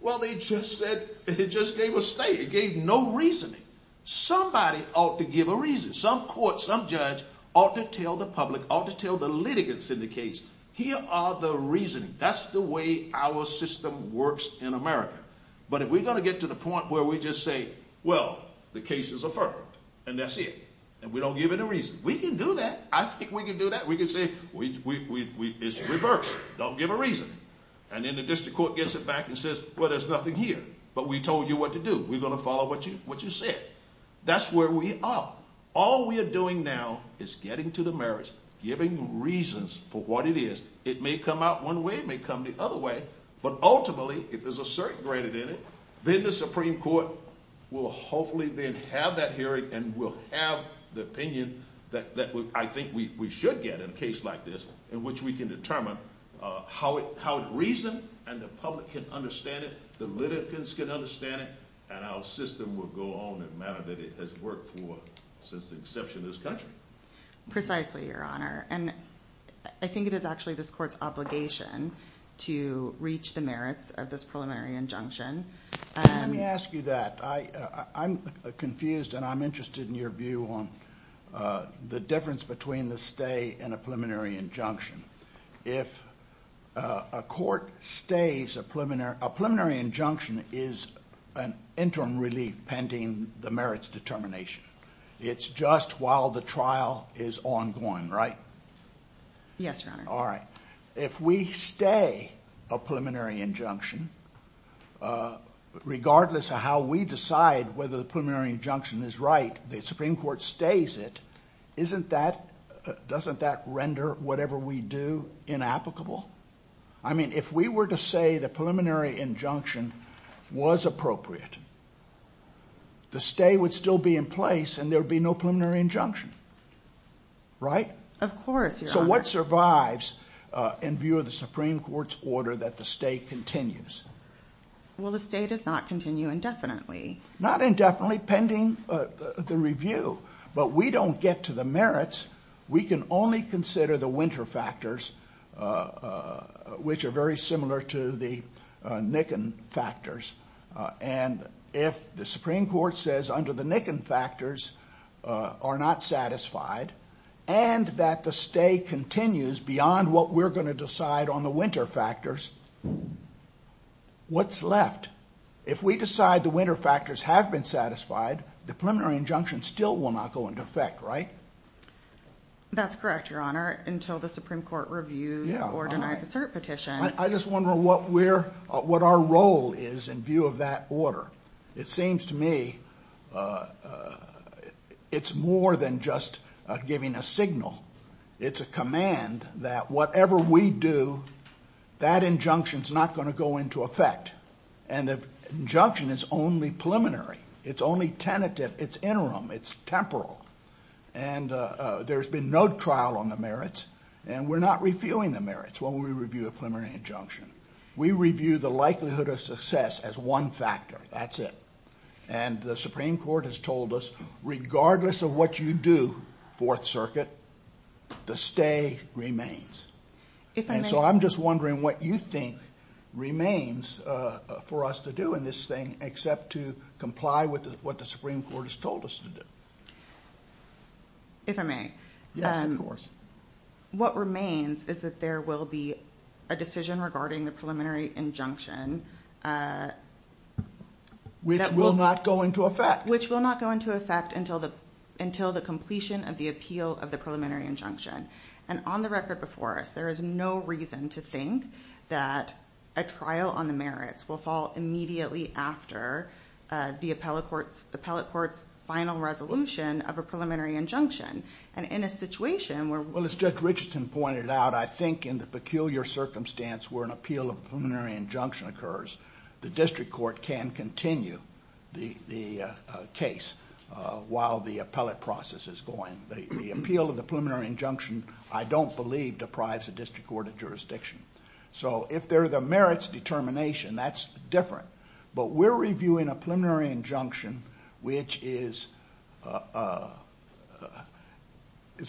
Well, they just gave a statement. It gave no reasoning. Somebody ought to give a reason. Some court, some judge ought to tell the public, ought to tell the litigants in the case, here are the reasons. That's the way our system works in America. But if we're going to get to the point where we just say, well, the case is affirmed, and that's it, and we don't give any reason, we can do that. I think we can do that. We can say it's reversed. Don't give a reason. And then the district court gets it back and says, well, there's nothing here, but we told you what to do. We're going to follow what you said. That's where we are. All we are doing now is getting to the merits, giving reasons for what it is. It may come out one way, it may come the other way, but ultimately, if there's a certain gradient in it, then the Supreme Court will hopefully then have that hearing and will have the opinion that I think we should get in a case like this in which we can determine how reason and the public can understand it, the litigants can understand it, and our system will go on in a manner that it has worked for since the inception of this country. Precisely, Your Honor. And I think it is actually this court's obligation to reach the merits of this preliminary injunction. Let me ask you that. I'm confused, and I'm interested in your view on the difference between the stay and a preliminary injunction. If a court stays a preliminary injunction is an interim relief pending the merits determination. It's just while the trial is ongoing, right? Yes, Your Honor. All right. If we stay a preliminary injunction, regardless of how we decide whether the preliminary injunction is right, the Supreme Court stays it, doesn't that render whatever we do inapplicable? I mean, if we were to say the preliminary injunction was appropriate, the stay would still be in place, and there would be no preliminary injunction, right? Of course, Your Honor. So what survives in view of the Supreme Court's order that the stay continues? Well, the stay does not continue indefinitely. Not indefinitely, pending the review. But we don't get to the merits. We can only consider the winter factors, which are very similar to the NICN factors. And if the Supreme Court says under the NICN factors are not satisfied and that the stay continues beyond what we're going to decide on the winter factors, what's left? If we decide the winter factors have been satisfied, the preliminary injunction still will not go into effect, right? That's correct, Your Honor, until the Supreme Court reviews the order and I have a cert petition. I just wonder what our role is in view of that order. It seems to me it's more than just giving a signal. It's a command that whatever we do, that injunction's not going to go into effect. And the injunction is only preliminary. It's only tentative. It's interim. It's temporal. And there's been no trial on the merits, and we're not reviewing the merits when we review a preliminary injunction. We review the likelihood of success as one factor. That's it. And the Supreme Court has told us regardless of what you do, Fourth Circuit, the stay remains. And so I'm just wondering what you think remains for us to do in this thing except to comply with what the Supreme Court has told us to do. If I may. Yes, of course. What remains is that there will be a decision regarding the preliminary injunction. Which will not go into effect. Which will not go into effect until the completion of the appeal of the preliminary injunction. And on the record before us, there is no reason to think that a trial on the merits will fall immediately after the appellate court's final resolution of a preliminary injunction. Well, as Judge Richardson pointed out, I think in the peculiar circumstance where an appeal of a preliminary injunction occurs, the district court can continue the case while the appellate process is going. The appeal of the preliminary injunction, I don't believe, deprives the district court of jurisdiction. So if there's a merits determination, that's different. But we're reviewing a preliminary injunction, which is a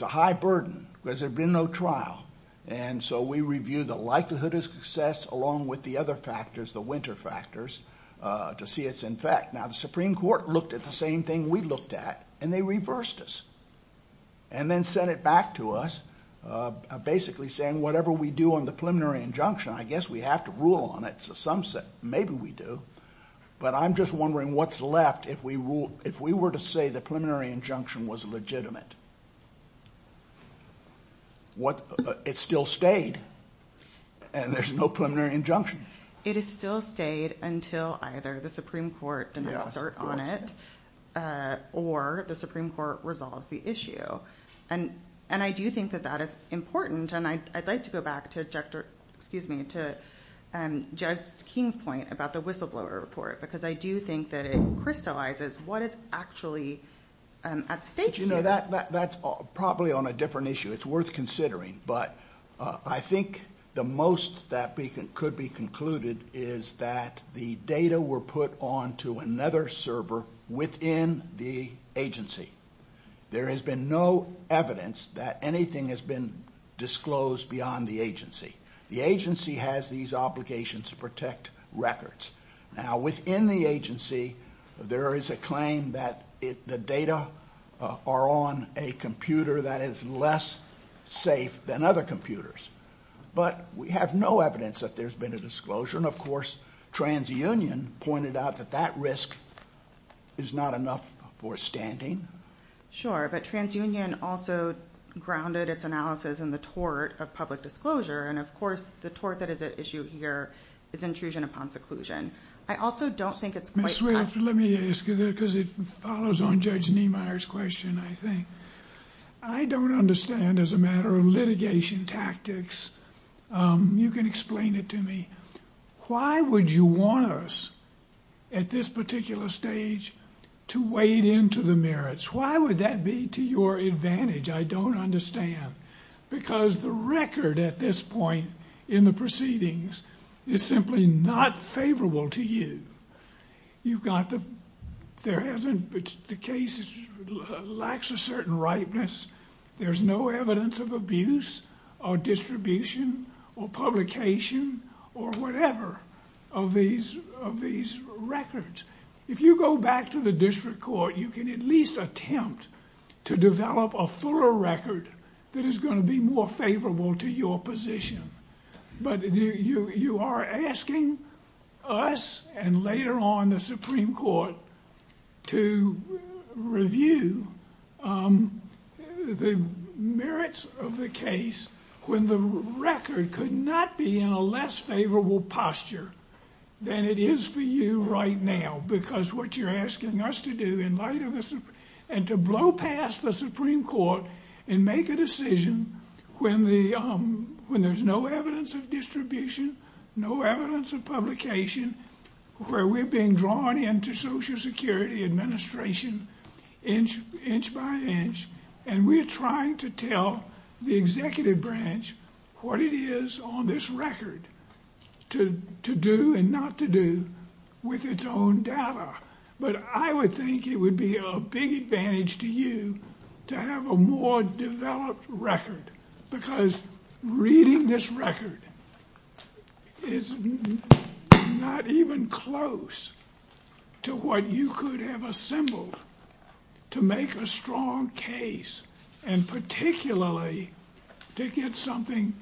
high burden, because there's been no trial. And so we review the likelihood of success along with the other factors, the winter factors, to see it's in effect. Now, the Supreme Court looked at the same thing we looked at, and they reversed us. And then sent it back to us, basically saying whatever we do on the preliminary injunction, I guess we have to rule on it to some extent. Maybe we do. But I'm just wondering what's left if we were to say the preliminary injunction was legitimate. It still stayed. And there's no preliminary injunction. It still stayed until either the Supreme Court did an assert on it or the Supreme Court resolved the issue. And I do think that that is important. John, I'd like to go back to Judge King's point about the whistleblower report, because I do think that it crystallizes what is actually at stake here. You know, that's probably on a different issue. It's worth considering. But I think the most that could be concluded is that the data were put onto another server within the agency. There has been no evidence that anything has been disclosed beyond the agency. The agency has these obligations to protect records. Now, within the agency, there is a claim that the data are on a computer that is less safe than other computers. But we have no evidence that there's been a disclosure. And, of course, TransUnion pointed out that that risk is not enough for standing. Sure, but TransUnion also grounded its analysis in the tort of public disclosure. And, of course, the tort that is at issue here is intrusion upon seclusion. I also don't think it's quite... Ms. Swift, let me ask you this, because it follows on Judge Niemeyer's question, I think. I don't understand, as a matter of litigation tactics, you can explain it to me. Why would you want us, at this particular stage, to wade into the merits? Why would that be to your advantage? I don't understand. Because the record at this point in the proceedings is simply not favorable to you. You've got the... There hasn't... The case lacks a certain ripeness. There's no evidence of abuse or distribution or publication or whatever of these records. If you go back to the district court, you can at least attempt to develop a fuller record that is going to be more favorable to your position. But you are asking us, and later on the Supreme Court, to review the merits of the case when the record could not be in a less favorable posture than it is for you right now. Because what you're asking us to do in light of the... and to blow past the Supreme Court and make a decision when there's no evidence of distribution, no evidence of publication, where we're being drawn into Social Security administration inch by inch, and we're trying to tell the executive branch what it is on this record to do and not to do with its own data. But I would think it would be a big advantage to you to have a more developed record. Because reading this record is not even close to what you could have assembled to make a strong case and particularly to get something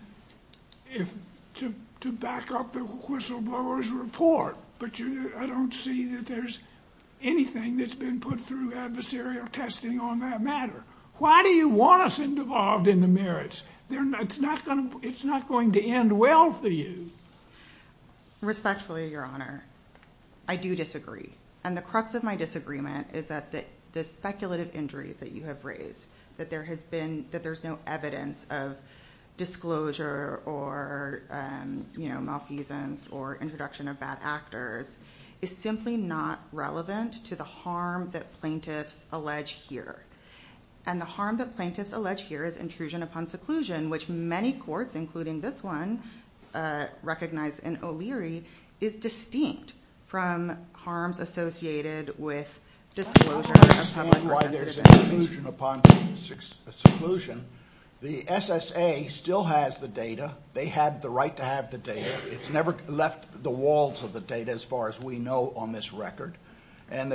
to back up the whistleblower's report. But I don't see that there's anything that's been put through adversarial testing on that matter. Why do you want us involved in the merits? It's not going to end well for you. Respectfully, Your Honor, I do disagree. And the crux of my disagreement is that the speculative injuries that you have raised, that there's no evidence of disclosure or malfeasance or introduction of bad actors, is simply not relevant to the harm that plaintiffs allege here. And the harm that plaintiffs allege here is intrusion upon seclusion, which many courts, including this one recognized in O'Leary, is distinct from harms associated with disclosure. I don't understand why there's intrusion upon seclusion. The SSA still has the data. They have the right to have the data. It's never left the walls of the data as far as we know on this record. And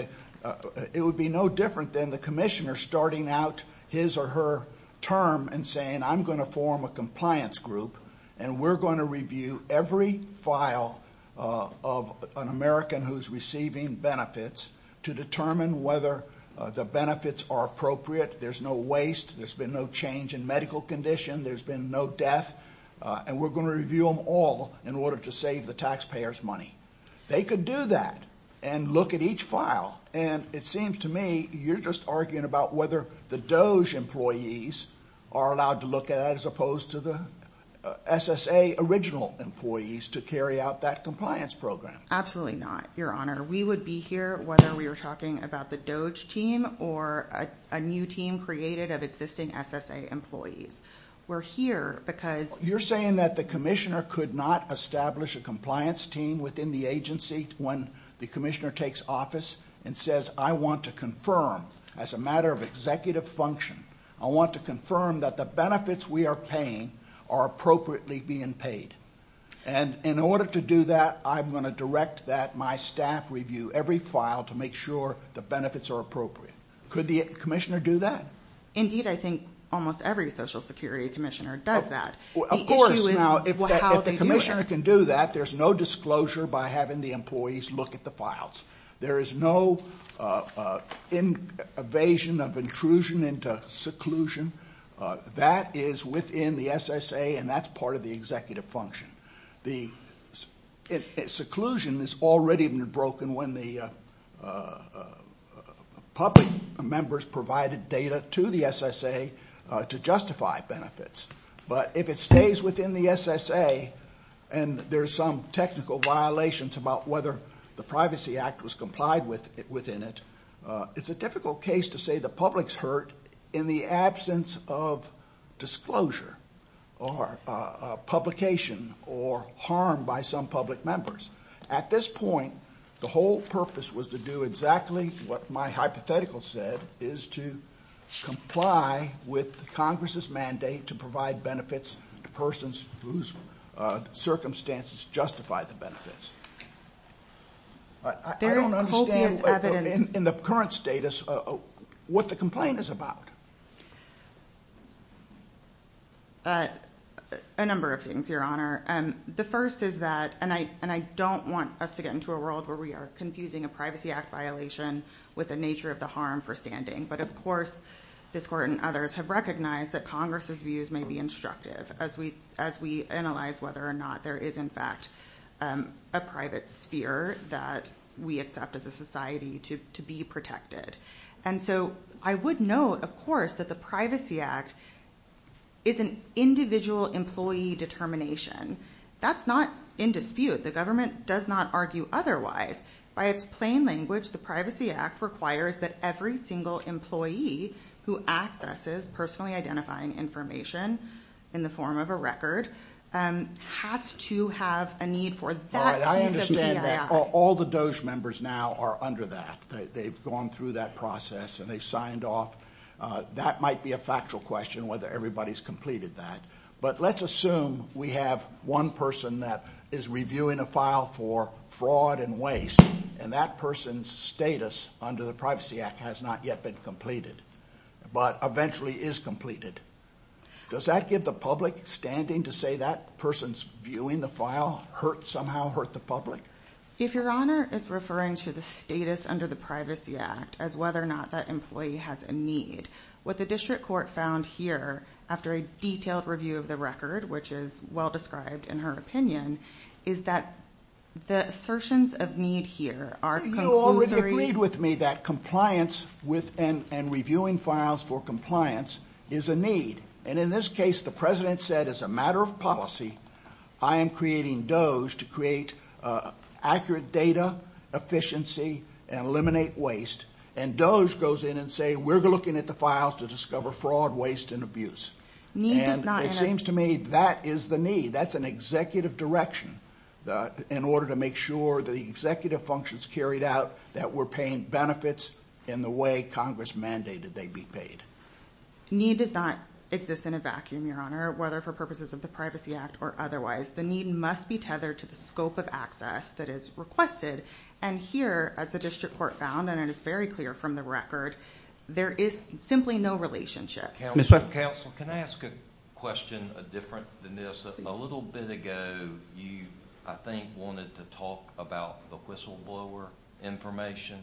it would be no different than the commissioner starting out his or her term and saying I'm going to form a compliance group and we're going to review every file of an American who's receiving benefits to determine whether the benefits are appropriate, there's no waste, there's been no change in medical condition, there's been no death, and we're going to review them all in order to save the taxpayers money. They could do that and look at each file. And it seems to me you're just arguing about whether the DOJ employees are allowed to look at it as opposed to the SSA original employees to carry out that compliance program. Absolutely not, Your Honor. We would be here whether we were talking about the DOJ team or a new team created of existing SSA employees. We're here because- You're saying that the commissioner could not establish a compliance team within the agency when the commissioner takes office and says I want to confirm as a matter of executive function, I want to confirm that the benefits we are paying are appropriately being paid. And in order to do that, I'm going to direct that my staff review every file to make sure the benefits are appropriate. Could the commissioner do that? Indeed, I think almost every social security commissioner does that. Of course, now, if the commissioner can do that, there's no disclosure by having the employees look at the files. There is no evasion of intrusion into seclusion. That is within the SSA, and that's part of the executive function. The seclusion is already broken when the public members provided data to the SSA to justify benefits. But if it stays within the SSA and there's some technical violations about whether the Privacy Act was complied with within it, it's a difficult case to say the public's hurt in the absence of disclosure or publication or harm by some public members. At this point, the whole purpose was to do exactly what my hypothetical said, is to comply with Congress's mandate to provide benefits to persons whose circumstances justify the benefits. I don't understand in the current status what the complaint is about. A number of things, Your Honor. The first is that, and I don't want us to get into a world where we are confusing a Privacy Act violation with the nature of the harm for standing. But, of course, this Court and others have recognized that Congress's views may be instructive as we analyze whether or not there is, in fact, a private sphere that we accept as a society to be protected. And so I would note, of course, that the Privacy Act is an individual employee determination. That's not in dispute. The government does not argue otherwise. By its plain language, the Privacy Act requires that every single employee who accesses personally identifying information in the form of a record has to have a need for that piece of data. I understand that. All the DOJ members now are under that. They've gone through that process and they've signed off. That might be a factual question, whether everybody's completed that. But let's assume we have one person that is reviewing a file for fraud and waste, and that person's status under the Privacy Act has not yet been completed but eventually is completed. Does that give the public standing to say that person's viewing the file somehow hurt the public? If Your Honor is referring to the status under the Privacy Act as whether or not that employee has a need, what the District Court found here after a detailed review of the record, which is well described in her opinion, is that the assertions of need here are conclusory. You always agreed with me that compliance and reviewing files for compliance is a need. And in this case, the President said as a matter of policy, I am creating DOJ to create accurate data, efficiency, and eliminate waste. And DOJ goes in and says we're looking at the files to discover fraud, waste, and abuse. And it seems to me that is the need. That's an executive direction in order to make sure the executive functions carried out that we're paying benefits in the way Congress mandated they be paid. Need does not exist in a vacuum, Your Honor, whether for purposes of the Privacy Act or otherwise. The need must be tethered to the scope of access that is requested. And here, as the District Court found, and it's very clear from the record, there is simply no relationship. Counsel, can I ask a question different than this? A little bit ago, you, I think, wanted to talk about the whistleblower information.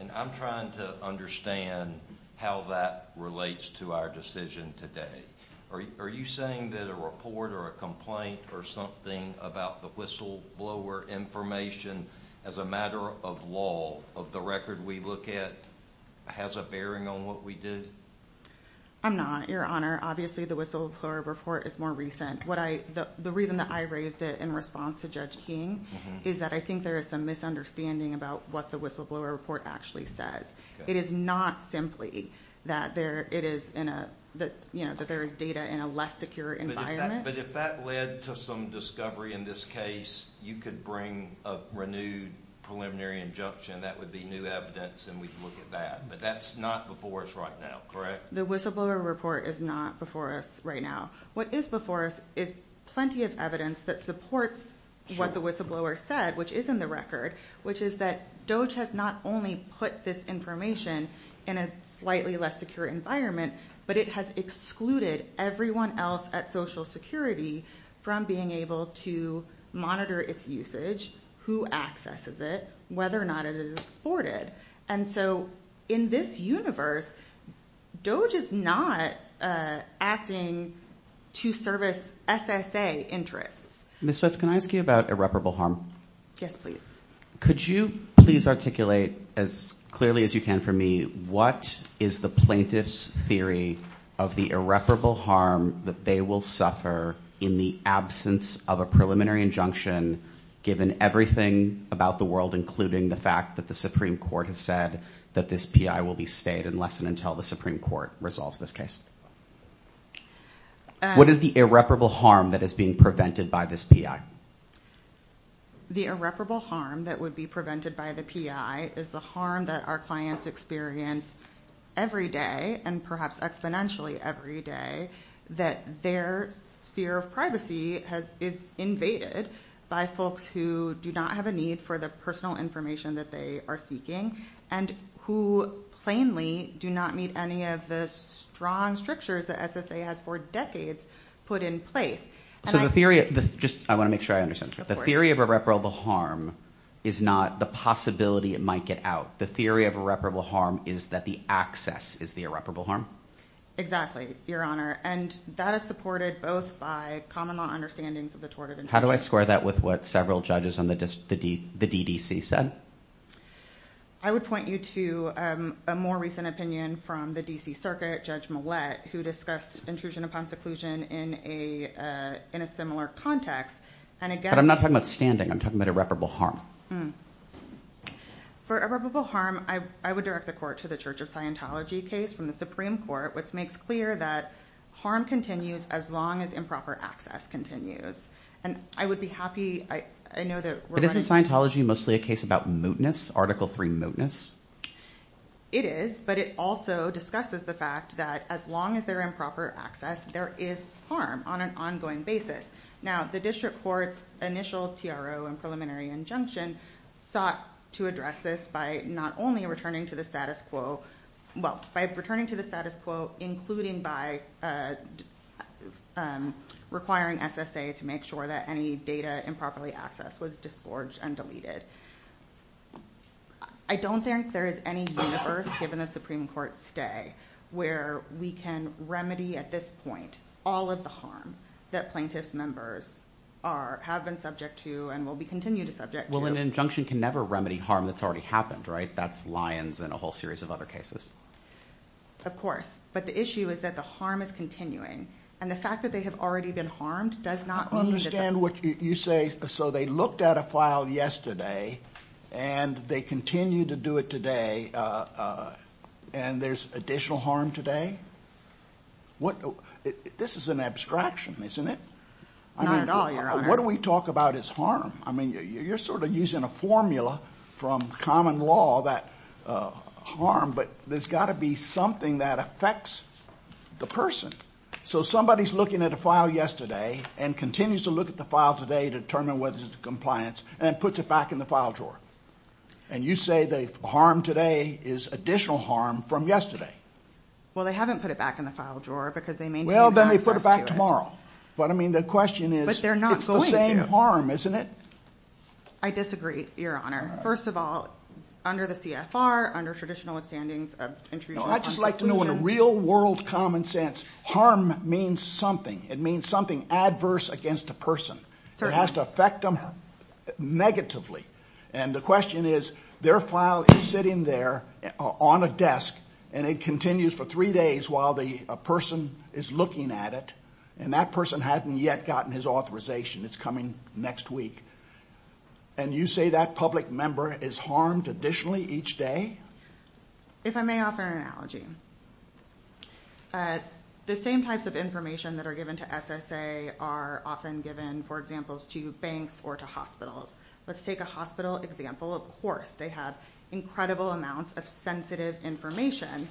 And I'm trying to understand how that relates to our decision today. Are you saying that a report or a complaint or something about the whistleblower information as a matter of law of the record we look at has a bearing on what we did? I'm not, Your Honor. Obviously, the whistleblower report is more recent. The reason that I raised it in response to Judge King is that I think there is some misunderstanding about what the whistleblower report actually said. It is not simply that there is data in a less secure environment. But if that led to some discovery in this case, you could bring a renewed preliminary injunction. That would be new evidence, and we could look at that. But that's not before us right now, correct? The whistleblower report is not before us right now. What is before us is plenty of evidence that supports what the whistleblower said, which is in the record, which is that DOJ has not only put this information in a slightly less secure environment, but it has excluded everyone else at Social Security from being able to monitor its usage, who accesses it, whether or not it is reported. And so, in this universe, DOJ is not acting to service SSA interests. Ms. Swift, can I ask you about irreparable harm? Yes, please. Could you please articulate as clearly as you can for me what is the plaintiff's theory of the irreparable harm that they will suffer in the absence of a preliminary injunction, given everything about the world, including the fact that the Supreme Court has said that this PI will be stayed in lesson until the Supreme Court resolves this case? What is the irreparable harm that is being prevented by this PI? The irreparable harm that would be prevented by the PI is the harm that our clients experience every day, and perhaps exponentially every day, that their sphere of privacy is invaded by folks who do not have a need for the personal information that they are seeking, and who plainly do not meet any of the strong strictures that SSA has for decades put in place. I want to make sure I understand. The theory of irreparable harm is not the possibility it might get out. The theory of irreparable harm is that the access is the irreparable harm. Exactly, Your Honor. And that is supported both by common law understandings of the tort of intrusion. How do I square that with what several judges on the DDC said? I would point you to a more recent opinion from the D.C. Circuit, Judge Millett, who discussed intrusion upon seclusion in a similar context. But I'm not talking about standing. I'm talking about irreparable harm. For irreparable harm, I would direct the court to the Church of Scientology case from the Supreme Court, which makes clear that harm continues as long as improper access continues. But isn't Scientology mostly a case about mootness, Article III mootness? It is, but it also discusses the fact that as long as there is improper access, there is harm on an ongoing basis. Now, the District Court's initial TRO and preliminary injunction sought to address this by not only returning to the status quo, well, by returning to the status quo, including by requiring SSA to make sure that any data improperly accessed was disforged and deleted. I don't think there is any universe, given the Supreme Court's day, where we can remedy at this point all of the harm that plaintiff members have been subject to and will be continued to be subject to. Well, an injunction can never remedy harm that's already happened, right? That's Lyons and a whole series of other cases. Of course, but the issue is that the harm is continuing, and the fact that they have already been harmed does not mean that they... I don't understand what you say. So they looked at a file yesterday, and they continue to do it today, and there's additional harm today? This is an abstraction, isn't it? I mean, what do we talk about as harm? I mean, you're sort of using a formula from common law, that harm, but there's got to be something that affects the person. So somebody's looking at a file yesterday and continues to look at the file today to determine whether it's in compliance and puts it back in the file drawer. And you say the harm today is additional harm from yesterday? Well, they haven't put it back in the file drawer because they maintain... Well, then they put it back tomorrow. But, I mean, the question is... But they're not... It's the same harm, isn't it? I disagree, Your Honor. First of all, under the CFR, under traditional standings of intrusion... I'd just like to know, in real world common sense, harm means something. It means something adverse against a person. It has to affect them negatively. And the question is, their file is sitting there on a desk and it continues for three days while a person is looking at it, and that person hasn't yet gotten his authorization. It's coming next week. And you say that public member is harmed additionally each day? If I may offer an analogy. The same types of information that are given to SSA are often given, for example, to banks or to hospitals. Let's take a hospital example. Of course, they have incredible amounts of sensitive information.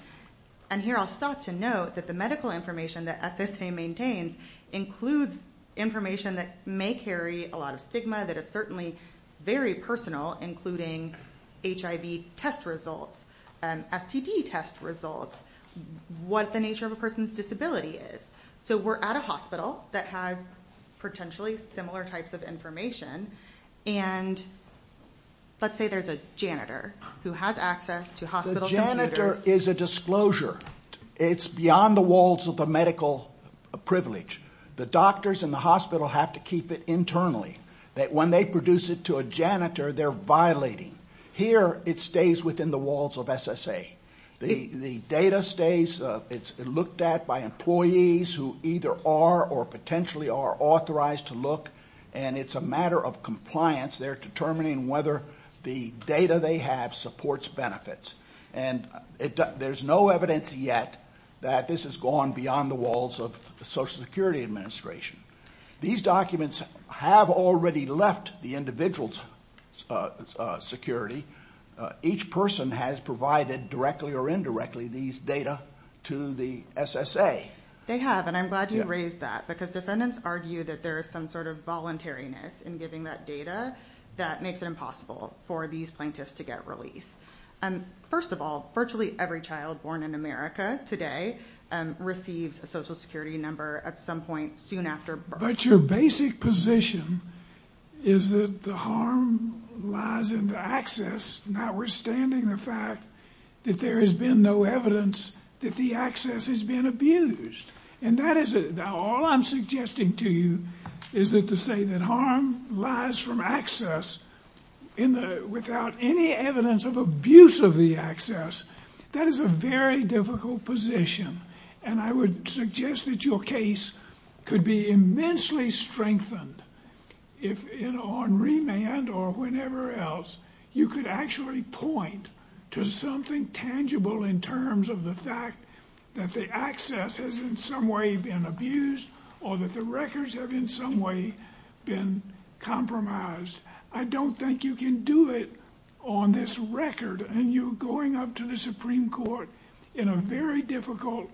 And here I'll stop to note that the medical information that SSA maintains includes information that may carry a lot of stigma, that is certainly very personal, including HIV test results, STD test results, what the nature of a person's disability is. So we're at a hospital that has potentially similar types of information and let's say there's a janitor who has access to hospital data. The janitor is a disclosure. It's beyond the walls of the medical privilege. The doctors in the hospital have to keep it internally. When they produce it to a janitor, they're violating. Here it stays within the walls of SSA. The data stays, it's looked at by employees who either are or potentially are authorized to look, and it's a matter of compliance. They're determining whether the data they have supports benefits. And there's no evidence yet that this has gone beyond the walls of the Social Security Administration. These documents have already left the individual's security. Each person has provided directly or indirectly these data to the SSA. They have, and I'm glad you raised that, because defendants argue that there is some sort of voluntariness in giving that data that makes it impossible for these plaintiffs to get relief. First of all, virtually every child born in America today received a Social Security number at some point soon after birth. But your basic position is that the harm lies in the access, notwithstanding the fact that there has been no evidence that the access has been abused. Now, all I'm suggesting to you is to say that harm lies from access without any evidence of abuse of the access. That is a very difficult position, and I would suggest that your case could be immensely strengthened on remand or whenever else. You could actually point to something tangible in terms of the fact that the access has in some way been abused or that the records have in some way been compromised. I don't think you can do it on this record, and you're going up to the Supreme Court in a very difficult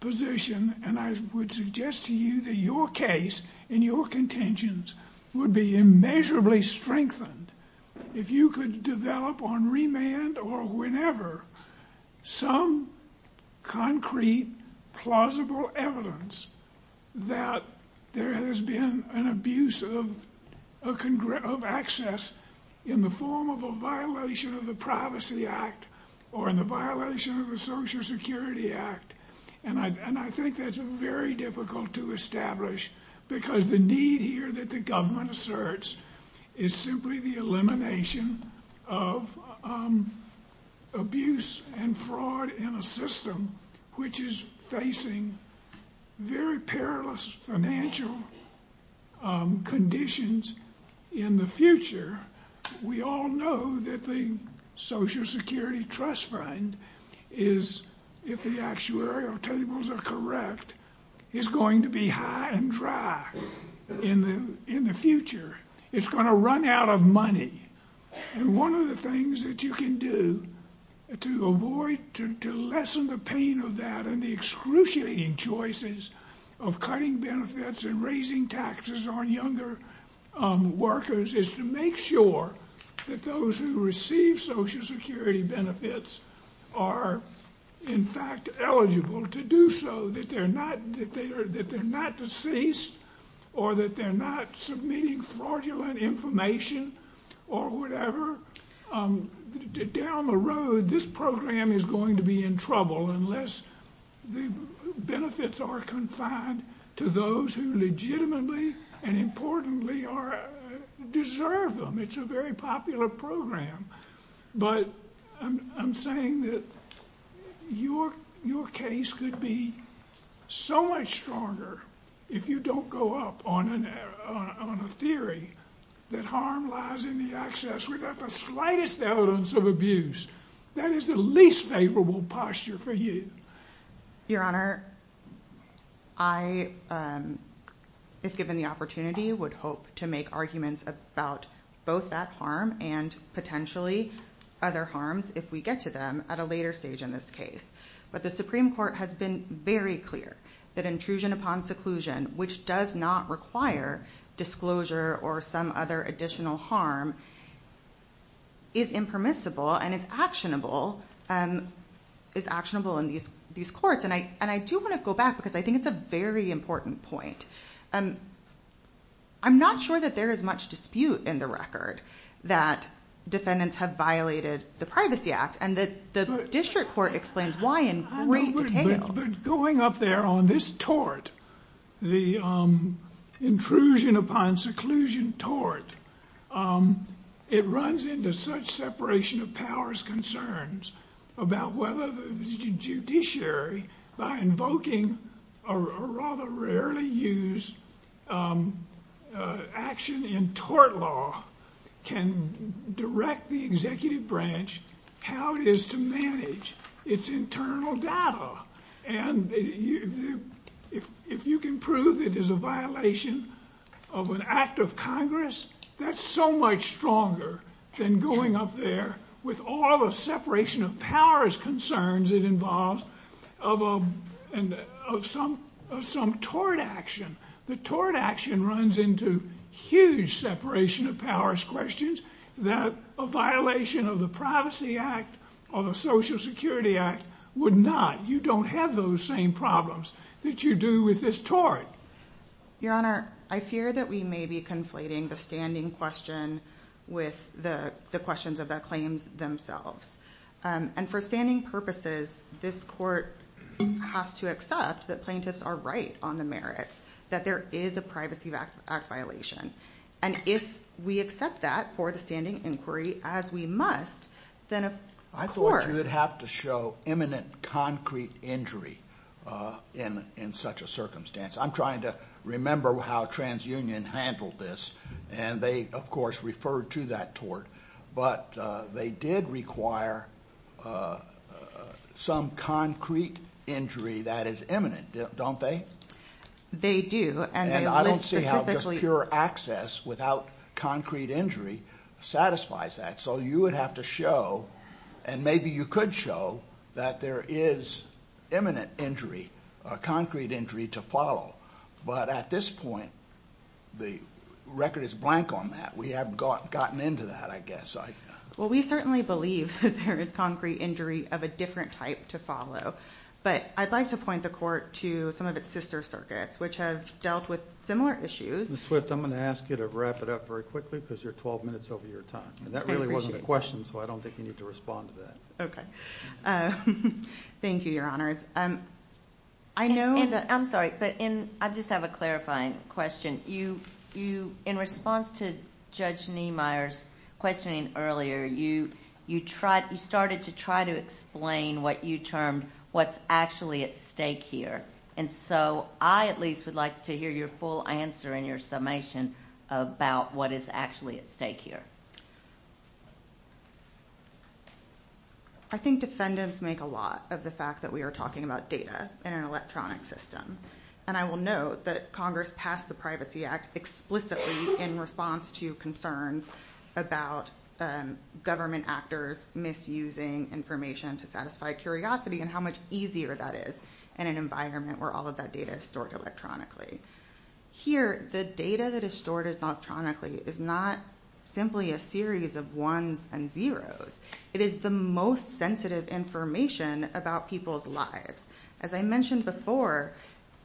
position, and I would suggest to you that your case and your contentions would be immeasurably strengthened if you could develop on remand or whenever some concrete plausible evidence that there has been an abuse of access in the form of a violation of the Privacy Act or in the violation of the Social Security Act. And I think that's very difficult to establish because the need here that the government asserts is simply the elimination of abuse and fraud in a system which is facing very perilous financial conditions in the future. We all know that the Social Security Trust Fund is, if the actuarial tables are correct, is going to be high and dry in the future. It's going to run out of money. And one of the things that you can do to avoid, to lessen the pain of that and the excruciating choices of cutting benefits and raising taxes on younger workers is to make sure that those who receive Social Security benefits are in fact eligible to do so, that they're not deceased or that they're not submitting fraudulent information or whatever. Down the road, this program is going to be in trouble unless the benefits are confined to those who legitimately and importantly deserve them. It's a very popular program. But I'm saying that your case could be so much stronger if you don't go up on the theory that harm lies in the access to the slightest evidence of abuse. That is the least favorable posture for you. Your Honor, I, if given the opportunity, would hope to make arguments about both that harm and potentially other harms, if we get to them, at a later stage in this case. But the Supreme Court has been very clear that intrusion upon seclusion, which does not require disclosure or some other additional harm, is impermissible and is actionable in these courts. And I do want to go back because I think it's a very important point. I'm not sure that there is much dispute in the record that defendants have violated the Privacy Act and that the District Court explains why in great detail. But going up there on this tort, the intrusion upon seclusion tort, it runs into such separation of powers concerns about whether the judiciary, by invoking a rather rarely used action in tort law, can direct the executive branch how it is to manage its internal data. And if you can prove it is a violation of an act of Congress, that's so much stronger than going up there with all the separation of powers concerns it involves of some tort action. The tort action runs into huge separation of powers questions that a violation of the Privacy Act or the Social Security Act would not. You don't have those same problems that you do with this tort. Your Honor, I fear that we may be conflating the standing question with the questions of the claims themselves. And for standing purposes, this court has to accept that plaintiffs are right on the merits, that there is a Privacy Act violation. And if we accept that for the standing inquiry, as we must, then of course... I thought you would have to show imminent concrete injury in such a circumstance. I'm trying to remember how TransUnion handled this. And they, of course, referred to that tort. But they did require some concrete injury that is imminent, don't they? They do. And I don't see how just pure access without concrete injury satisfies that. So you would have to show, and maybe you could show, that there is imminent injury, concrete injury to follow. But at this point, the record is blank on that. We haven't gotten into that, I guess. Well, we certainly believe there is concrete injury of a different type to follow. But I'd like to point the court to some of its sister circuits, which have dealt with similar issues. And, Swift, I'm going to ask you to wrap it up very quickly because you're 12 minutes over your time. And that really wasn't a question, so I don't think you need to respond to that. Okay. Thank you, Your Honors. I'm sorry, but I just have a clarifying question. In response to Judge Niemeyer's questioning earlier, you started to try to explain what you termed what's actually at stake here. And so I, at least, would like to hear your full answer in your summation about what is actually at stake here. I think defendants make a lot of the fact that we are talking about data in an electronic system. And I will note that Congress passed the Privacy Act explicitly in response to concerns about government actors misusing information to satisfy curiosity and how much easier that is in an environment where all of that data is stored electronically. Here, the data that is stored electronically is not simply a series of ones and zeros. It is the most sensitive information about people's lives. As I mentioned before,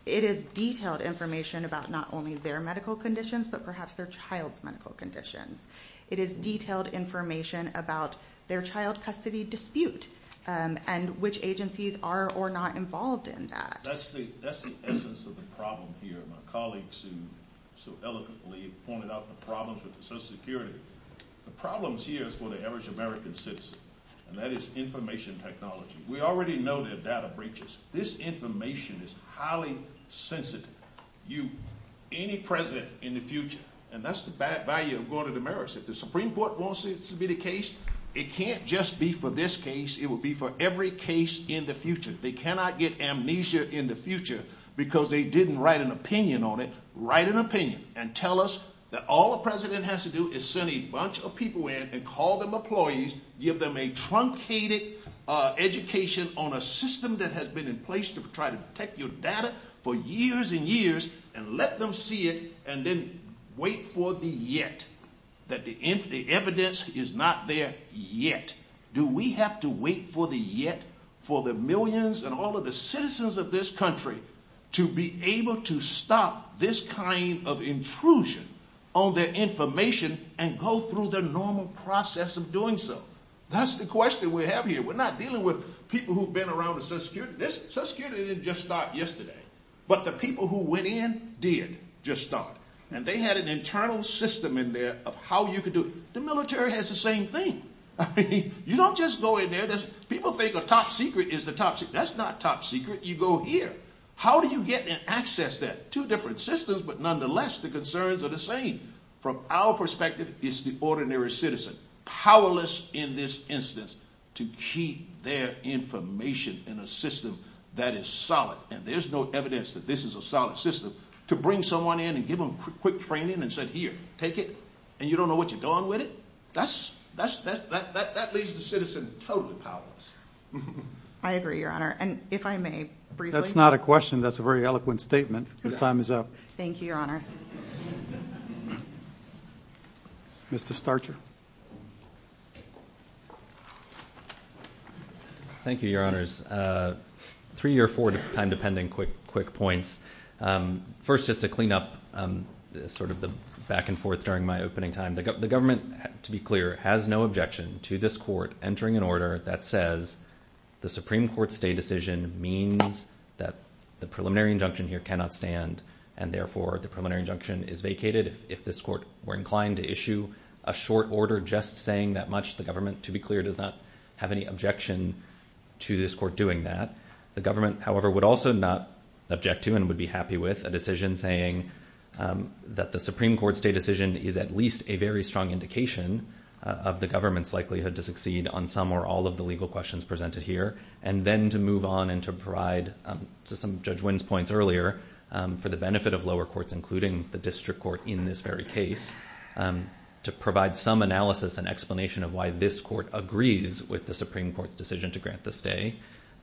it is detailed information about not only their medical conditions, but perhaps their child's medical conditions. It is detailed information about their child custody dispute and which agencies are or are not involved in that. That's the essence of the problem here. My colleagues who so eloquently pointed out the problems with Social Security. The problems here is where the average American sits, and that is information technology. We already know that data breaches. This information is highly sensitive. You, any president in the future, and that's the value of going to the merits. If the Supreme Court wants it to be the case, it can't just be for this case. It will be for every case in the future. They cannot get amnesia in the future because they didn't write an opinion on it. Write an opinion and tell us that all a president has to do is send a bunch of people in and call them employees, give them a truncated education on a system that has been in place to try to protect your data for years and years and let them see it and then wait for the yet. That the evidence is not there yet. Do we have to wait for the yet for the millions and all of the citizens of this country to be able to stop this kind of intrusion on their information and go through their normal process of doing so? That's the question we have here. We're not dealing with people who've been around the Social Security. Social Security didn't just start yesterday, but the people who went in did just start, and they had an internal system in there of how you could do it. The military has the same thing. You don't just go in there. People think the top secret is the top secret. That's not top secret. You go here. How do you get access there? Two different systems, but nonetheless, the concerns are the same. From our perspective, it's the ordinary citizen, powerless in this instance to keep their information in a system that is solid, and there's no evidence that this is a solid system, to bring someone in and give them quick training and say, here, take it, and you don't know what you're doing with it, that leaves the citizen totally powerless. I agree, Your Honor, and if I may briefly... That's not a question. That's a very eloquent statement. Your time is up. Thank you, Your Honor. Mr. Starcher. Thank you, Your Honors. Three or four time-dependent quick points. First, just to clean up sort of the back and forth during my opening time, the government, to be clear, has no objection to this court entering an order that says the Supreme Court's state decision means that the preliminary injunction here cannot stand, and therefore, the preliminary injunction is vacated. If this court were inclined to issue a short order just saying that much, the government, to be clear, does not have any objection to this court doing that. The government, however, would also not object to and would be happy with a decision saying that the Supreme Court's state decision is at least a very strong indication of the government's likelihood to succeed on some or all of the legal questions presented here, and then to move on and to provide, to some of Judge Wynn's points earlier, for the benefit of lower courts, including the district court in this very case, to provide some analysis and explanation of why this court agrees with the Supreme Court's decision to grant the stay.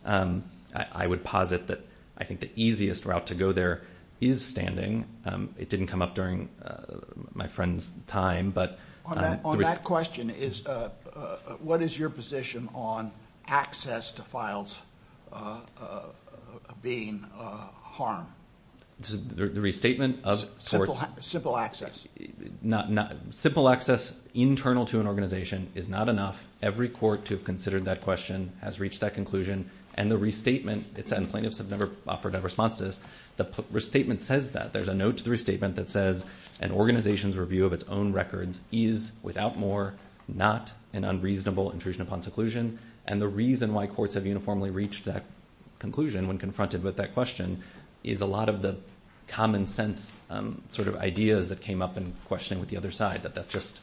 I would posit that I think the easiest route to go there is standing. It didn't come up during my friend's time, but... On that question, what is your position on access to files being harmed? The restatement of... Simple access. Simple access internal to an organization is not enough. Every court to have considered that question has reached that conclusion, and the restatement... Plaintiffs have never offered that response to this. The restatement says that. There's a note to the restatement that says, an organization's review of its own records is, without more, not an unreasonable intrusion upon seclusion, and the reason why courts have uniformly reached that conclusion when confronted with that question is a lot of the common-sense sort of ideas that came up in questioning with the other side, that that's just...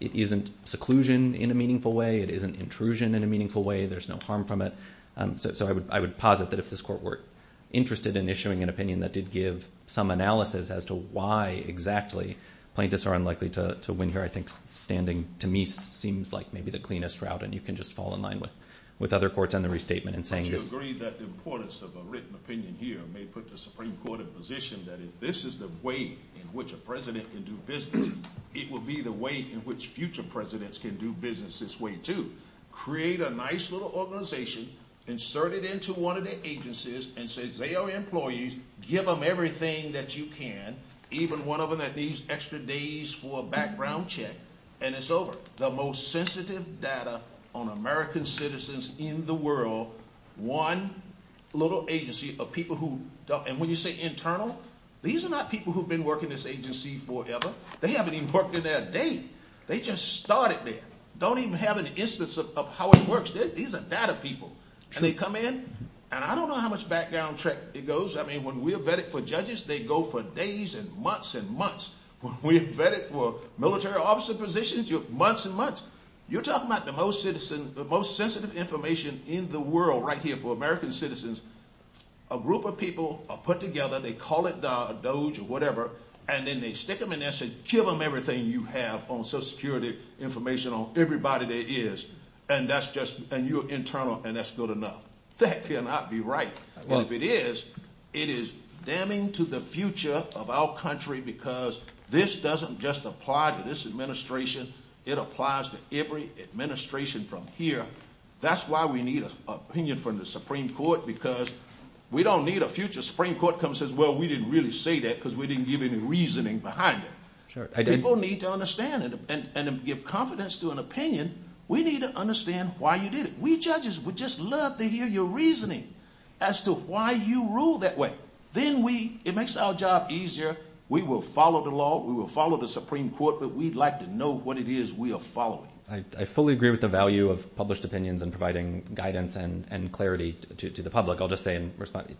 It isn't seclusion in a meaningful way. It isn't intrusion in a meaningful way. There's no harm from it. So I would posit that if this court were interested in issuing an opinion that did give some analysis as to why exactly plaintiffs are unlikely to win here, I think standing, to me, seems like maybe the cleanest route, and you can just fall in line with other courts on the restatement in saying... Do you agree that the importance of a written opinion here may put the Supreme Court in a position that if this is the way in which a president can do business, it will be the way in which future presidents can do business this way too? Create a nice little organization, insert it into one of the agencies, and since they are employees, give them everything that you can, even one of these extra days for a background check, and it's over. The most sensitive data on American citizens in the world, one little agency of people who... And when you say internal, these are not people who have been working this agency forever. They haven't even worked in there a day. They just started there. Don't even have an instance of how it works. These are data people, and they come in, and I don't know how much background check it goes. I mean, when we have vetted for judges, they go for days and months and months. When we have vetted for military officer positions, you have months and months. You're talking about the most sensitive information in the world right here for American citizens. A group of people are put together. They call it a doge or whatever, and then they stick them in there and say, give them everything you have on Social Security information on everybody there is, and you're internal, and that's good enough. That cannot be right, and if it is, it is damning to the future of our country because this doesn't just apply to this administration. It applies to every administration from here. That's why we need an opinion from the Supreme Court because we don't need a future Supreme Court coming and says, well, we didn't really say that because we didn't give any reasoning behind it. People need to understand it, and to give confidence to an opinion, we need to understand why you did it. We judges would just love to hear your reasoning as to why you ruled that way. Then it makes our job easier. We will follow the law. We will follow the Supreme Court, but we'd like to know what it is we are following. I fully agree with the value of published opinions and providing guidance and clarity to the public. I'll just say in response,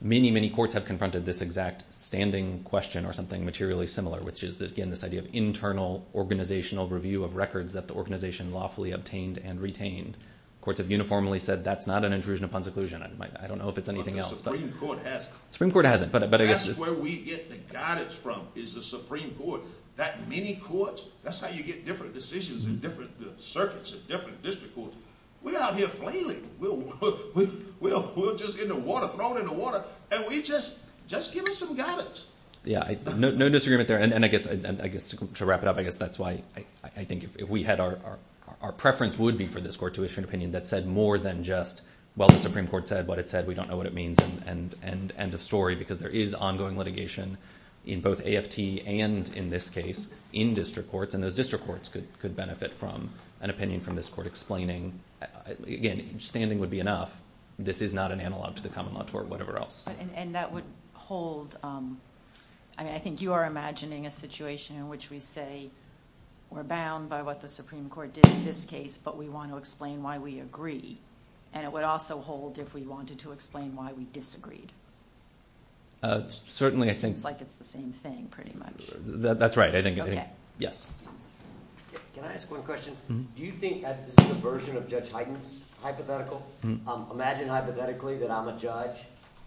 many, many courts have confronted this exact standing question or something materially similar, which is, again, this idea of internal organizational review of records that the organization lawfully obtained and retained. Of course, I've uniformly said that's not an intrusion upon seclusion. I don't know if it's anything else. The Supreme Court has it. That's where we get the guidance from is the Supreme Court. That many courts, that's how you get different decisions and different circuits and different district courts. We're out here playing it. We're just in the water, thrown in the water, and we're just getting some guidance. Yeah, no disagreement there. To wrap it up, I guess that's why I think our preference would be for this court to issue an opinion that said more than just, well, the Supreme Court said what it said. We don't know what it means and the story because there is ongoing litigation in both AFT and, in this case, in district courts, and those district courts could benefit from an opinion from this court explaining. Again, standing would be enough. This is not an analog to the common law court, whatever else. That would hold. I think you are imagining a situation in which we say we're bound by what the Supreme Court did in this case, but we want to explain why we agree. It would also hold if we wanted to explain why we disagreed. Certainly, I think... That's what you're saying, pretty much. That's right. Can I ask one question? Do you think, as a version of Judge Hyden's hypothetical, imagine hypothetically that I'm a judge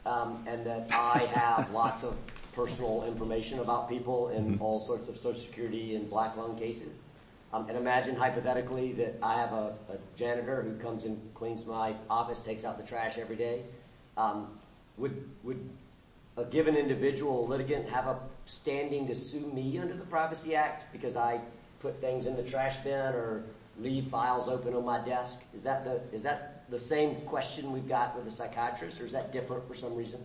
and that I have lots of personal information about people and all sorts of social security and black-owned cases, and imagine hypothetically that I have a janitor who comes and cleans my office, takes out the trash every day. Would a given individual litigant have a standing to sue me under the Privacy Act because I put things in the trash bin or leave files open on my desk? Is that the same question we've got with a psychiatrist, or is that different for some reason?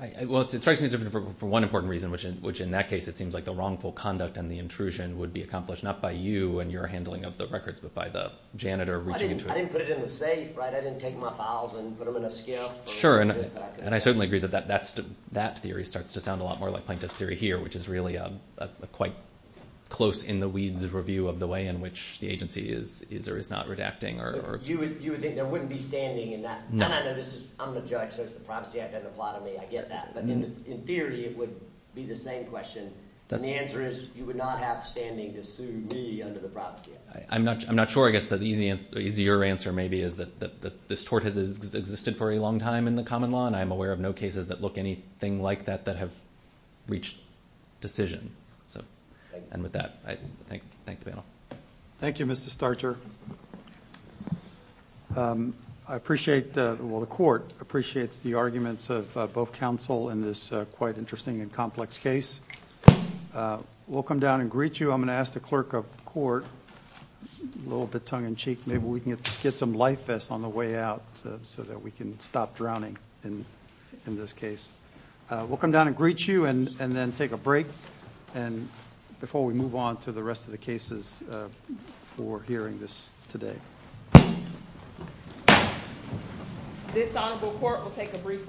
It certainly is different for one important reason, which in that case, it seems like the wrongful conduct and the intrusion would be accomplished not by you and your handling of the records, but by the janitor reaching into it. I didn't put it in a safe. I didn't take my files and put them in a scale. Sure, and I certainly agree that that theory starts to sound a lot more like my theory here, which is really quite close in the weeds of review of the way in which the agency is or is not redacting. You would think there wouldn't be standing in that? No. I get that, but in theory, it would be the same question, and the answer is you would not have standing to sue me under the Privacy Act. I'm not sure, I guess, that the easier answer maybe is that this court has existed for a long time in the common law, and I'm aware of no cases that look anything like that that have reached decision. So, I'll end with that. Thank you, panel. Thank you, Mr. Starcher. I appreciate the, well, the court appreciates the arguments of both counsel in this quite interesting and complex case. We'll come down and greet you. I'm going to ask the clerk of court, a little bit tongue-in-cheek, maybe we can get some life vests on the way out so that we can stop drowning in this case. We'll come down and greet you and then take a break, before we move on to the rest of the cases that we're hearing today. This honorable court will take a brief recess.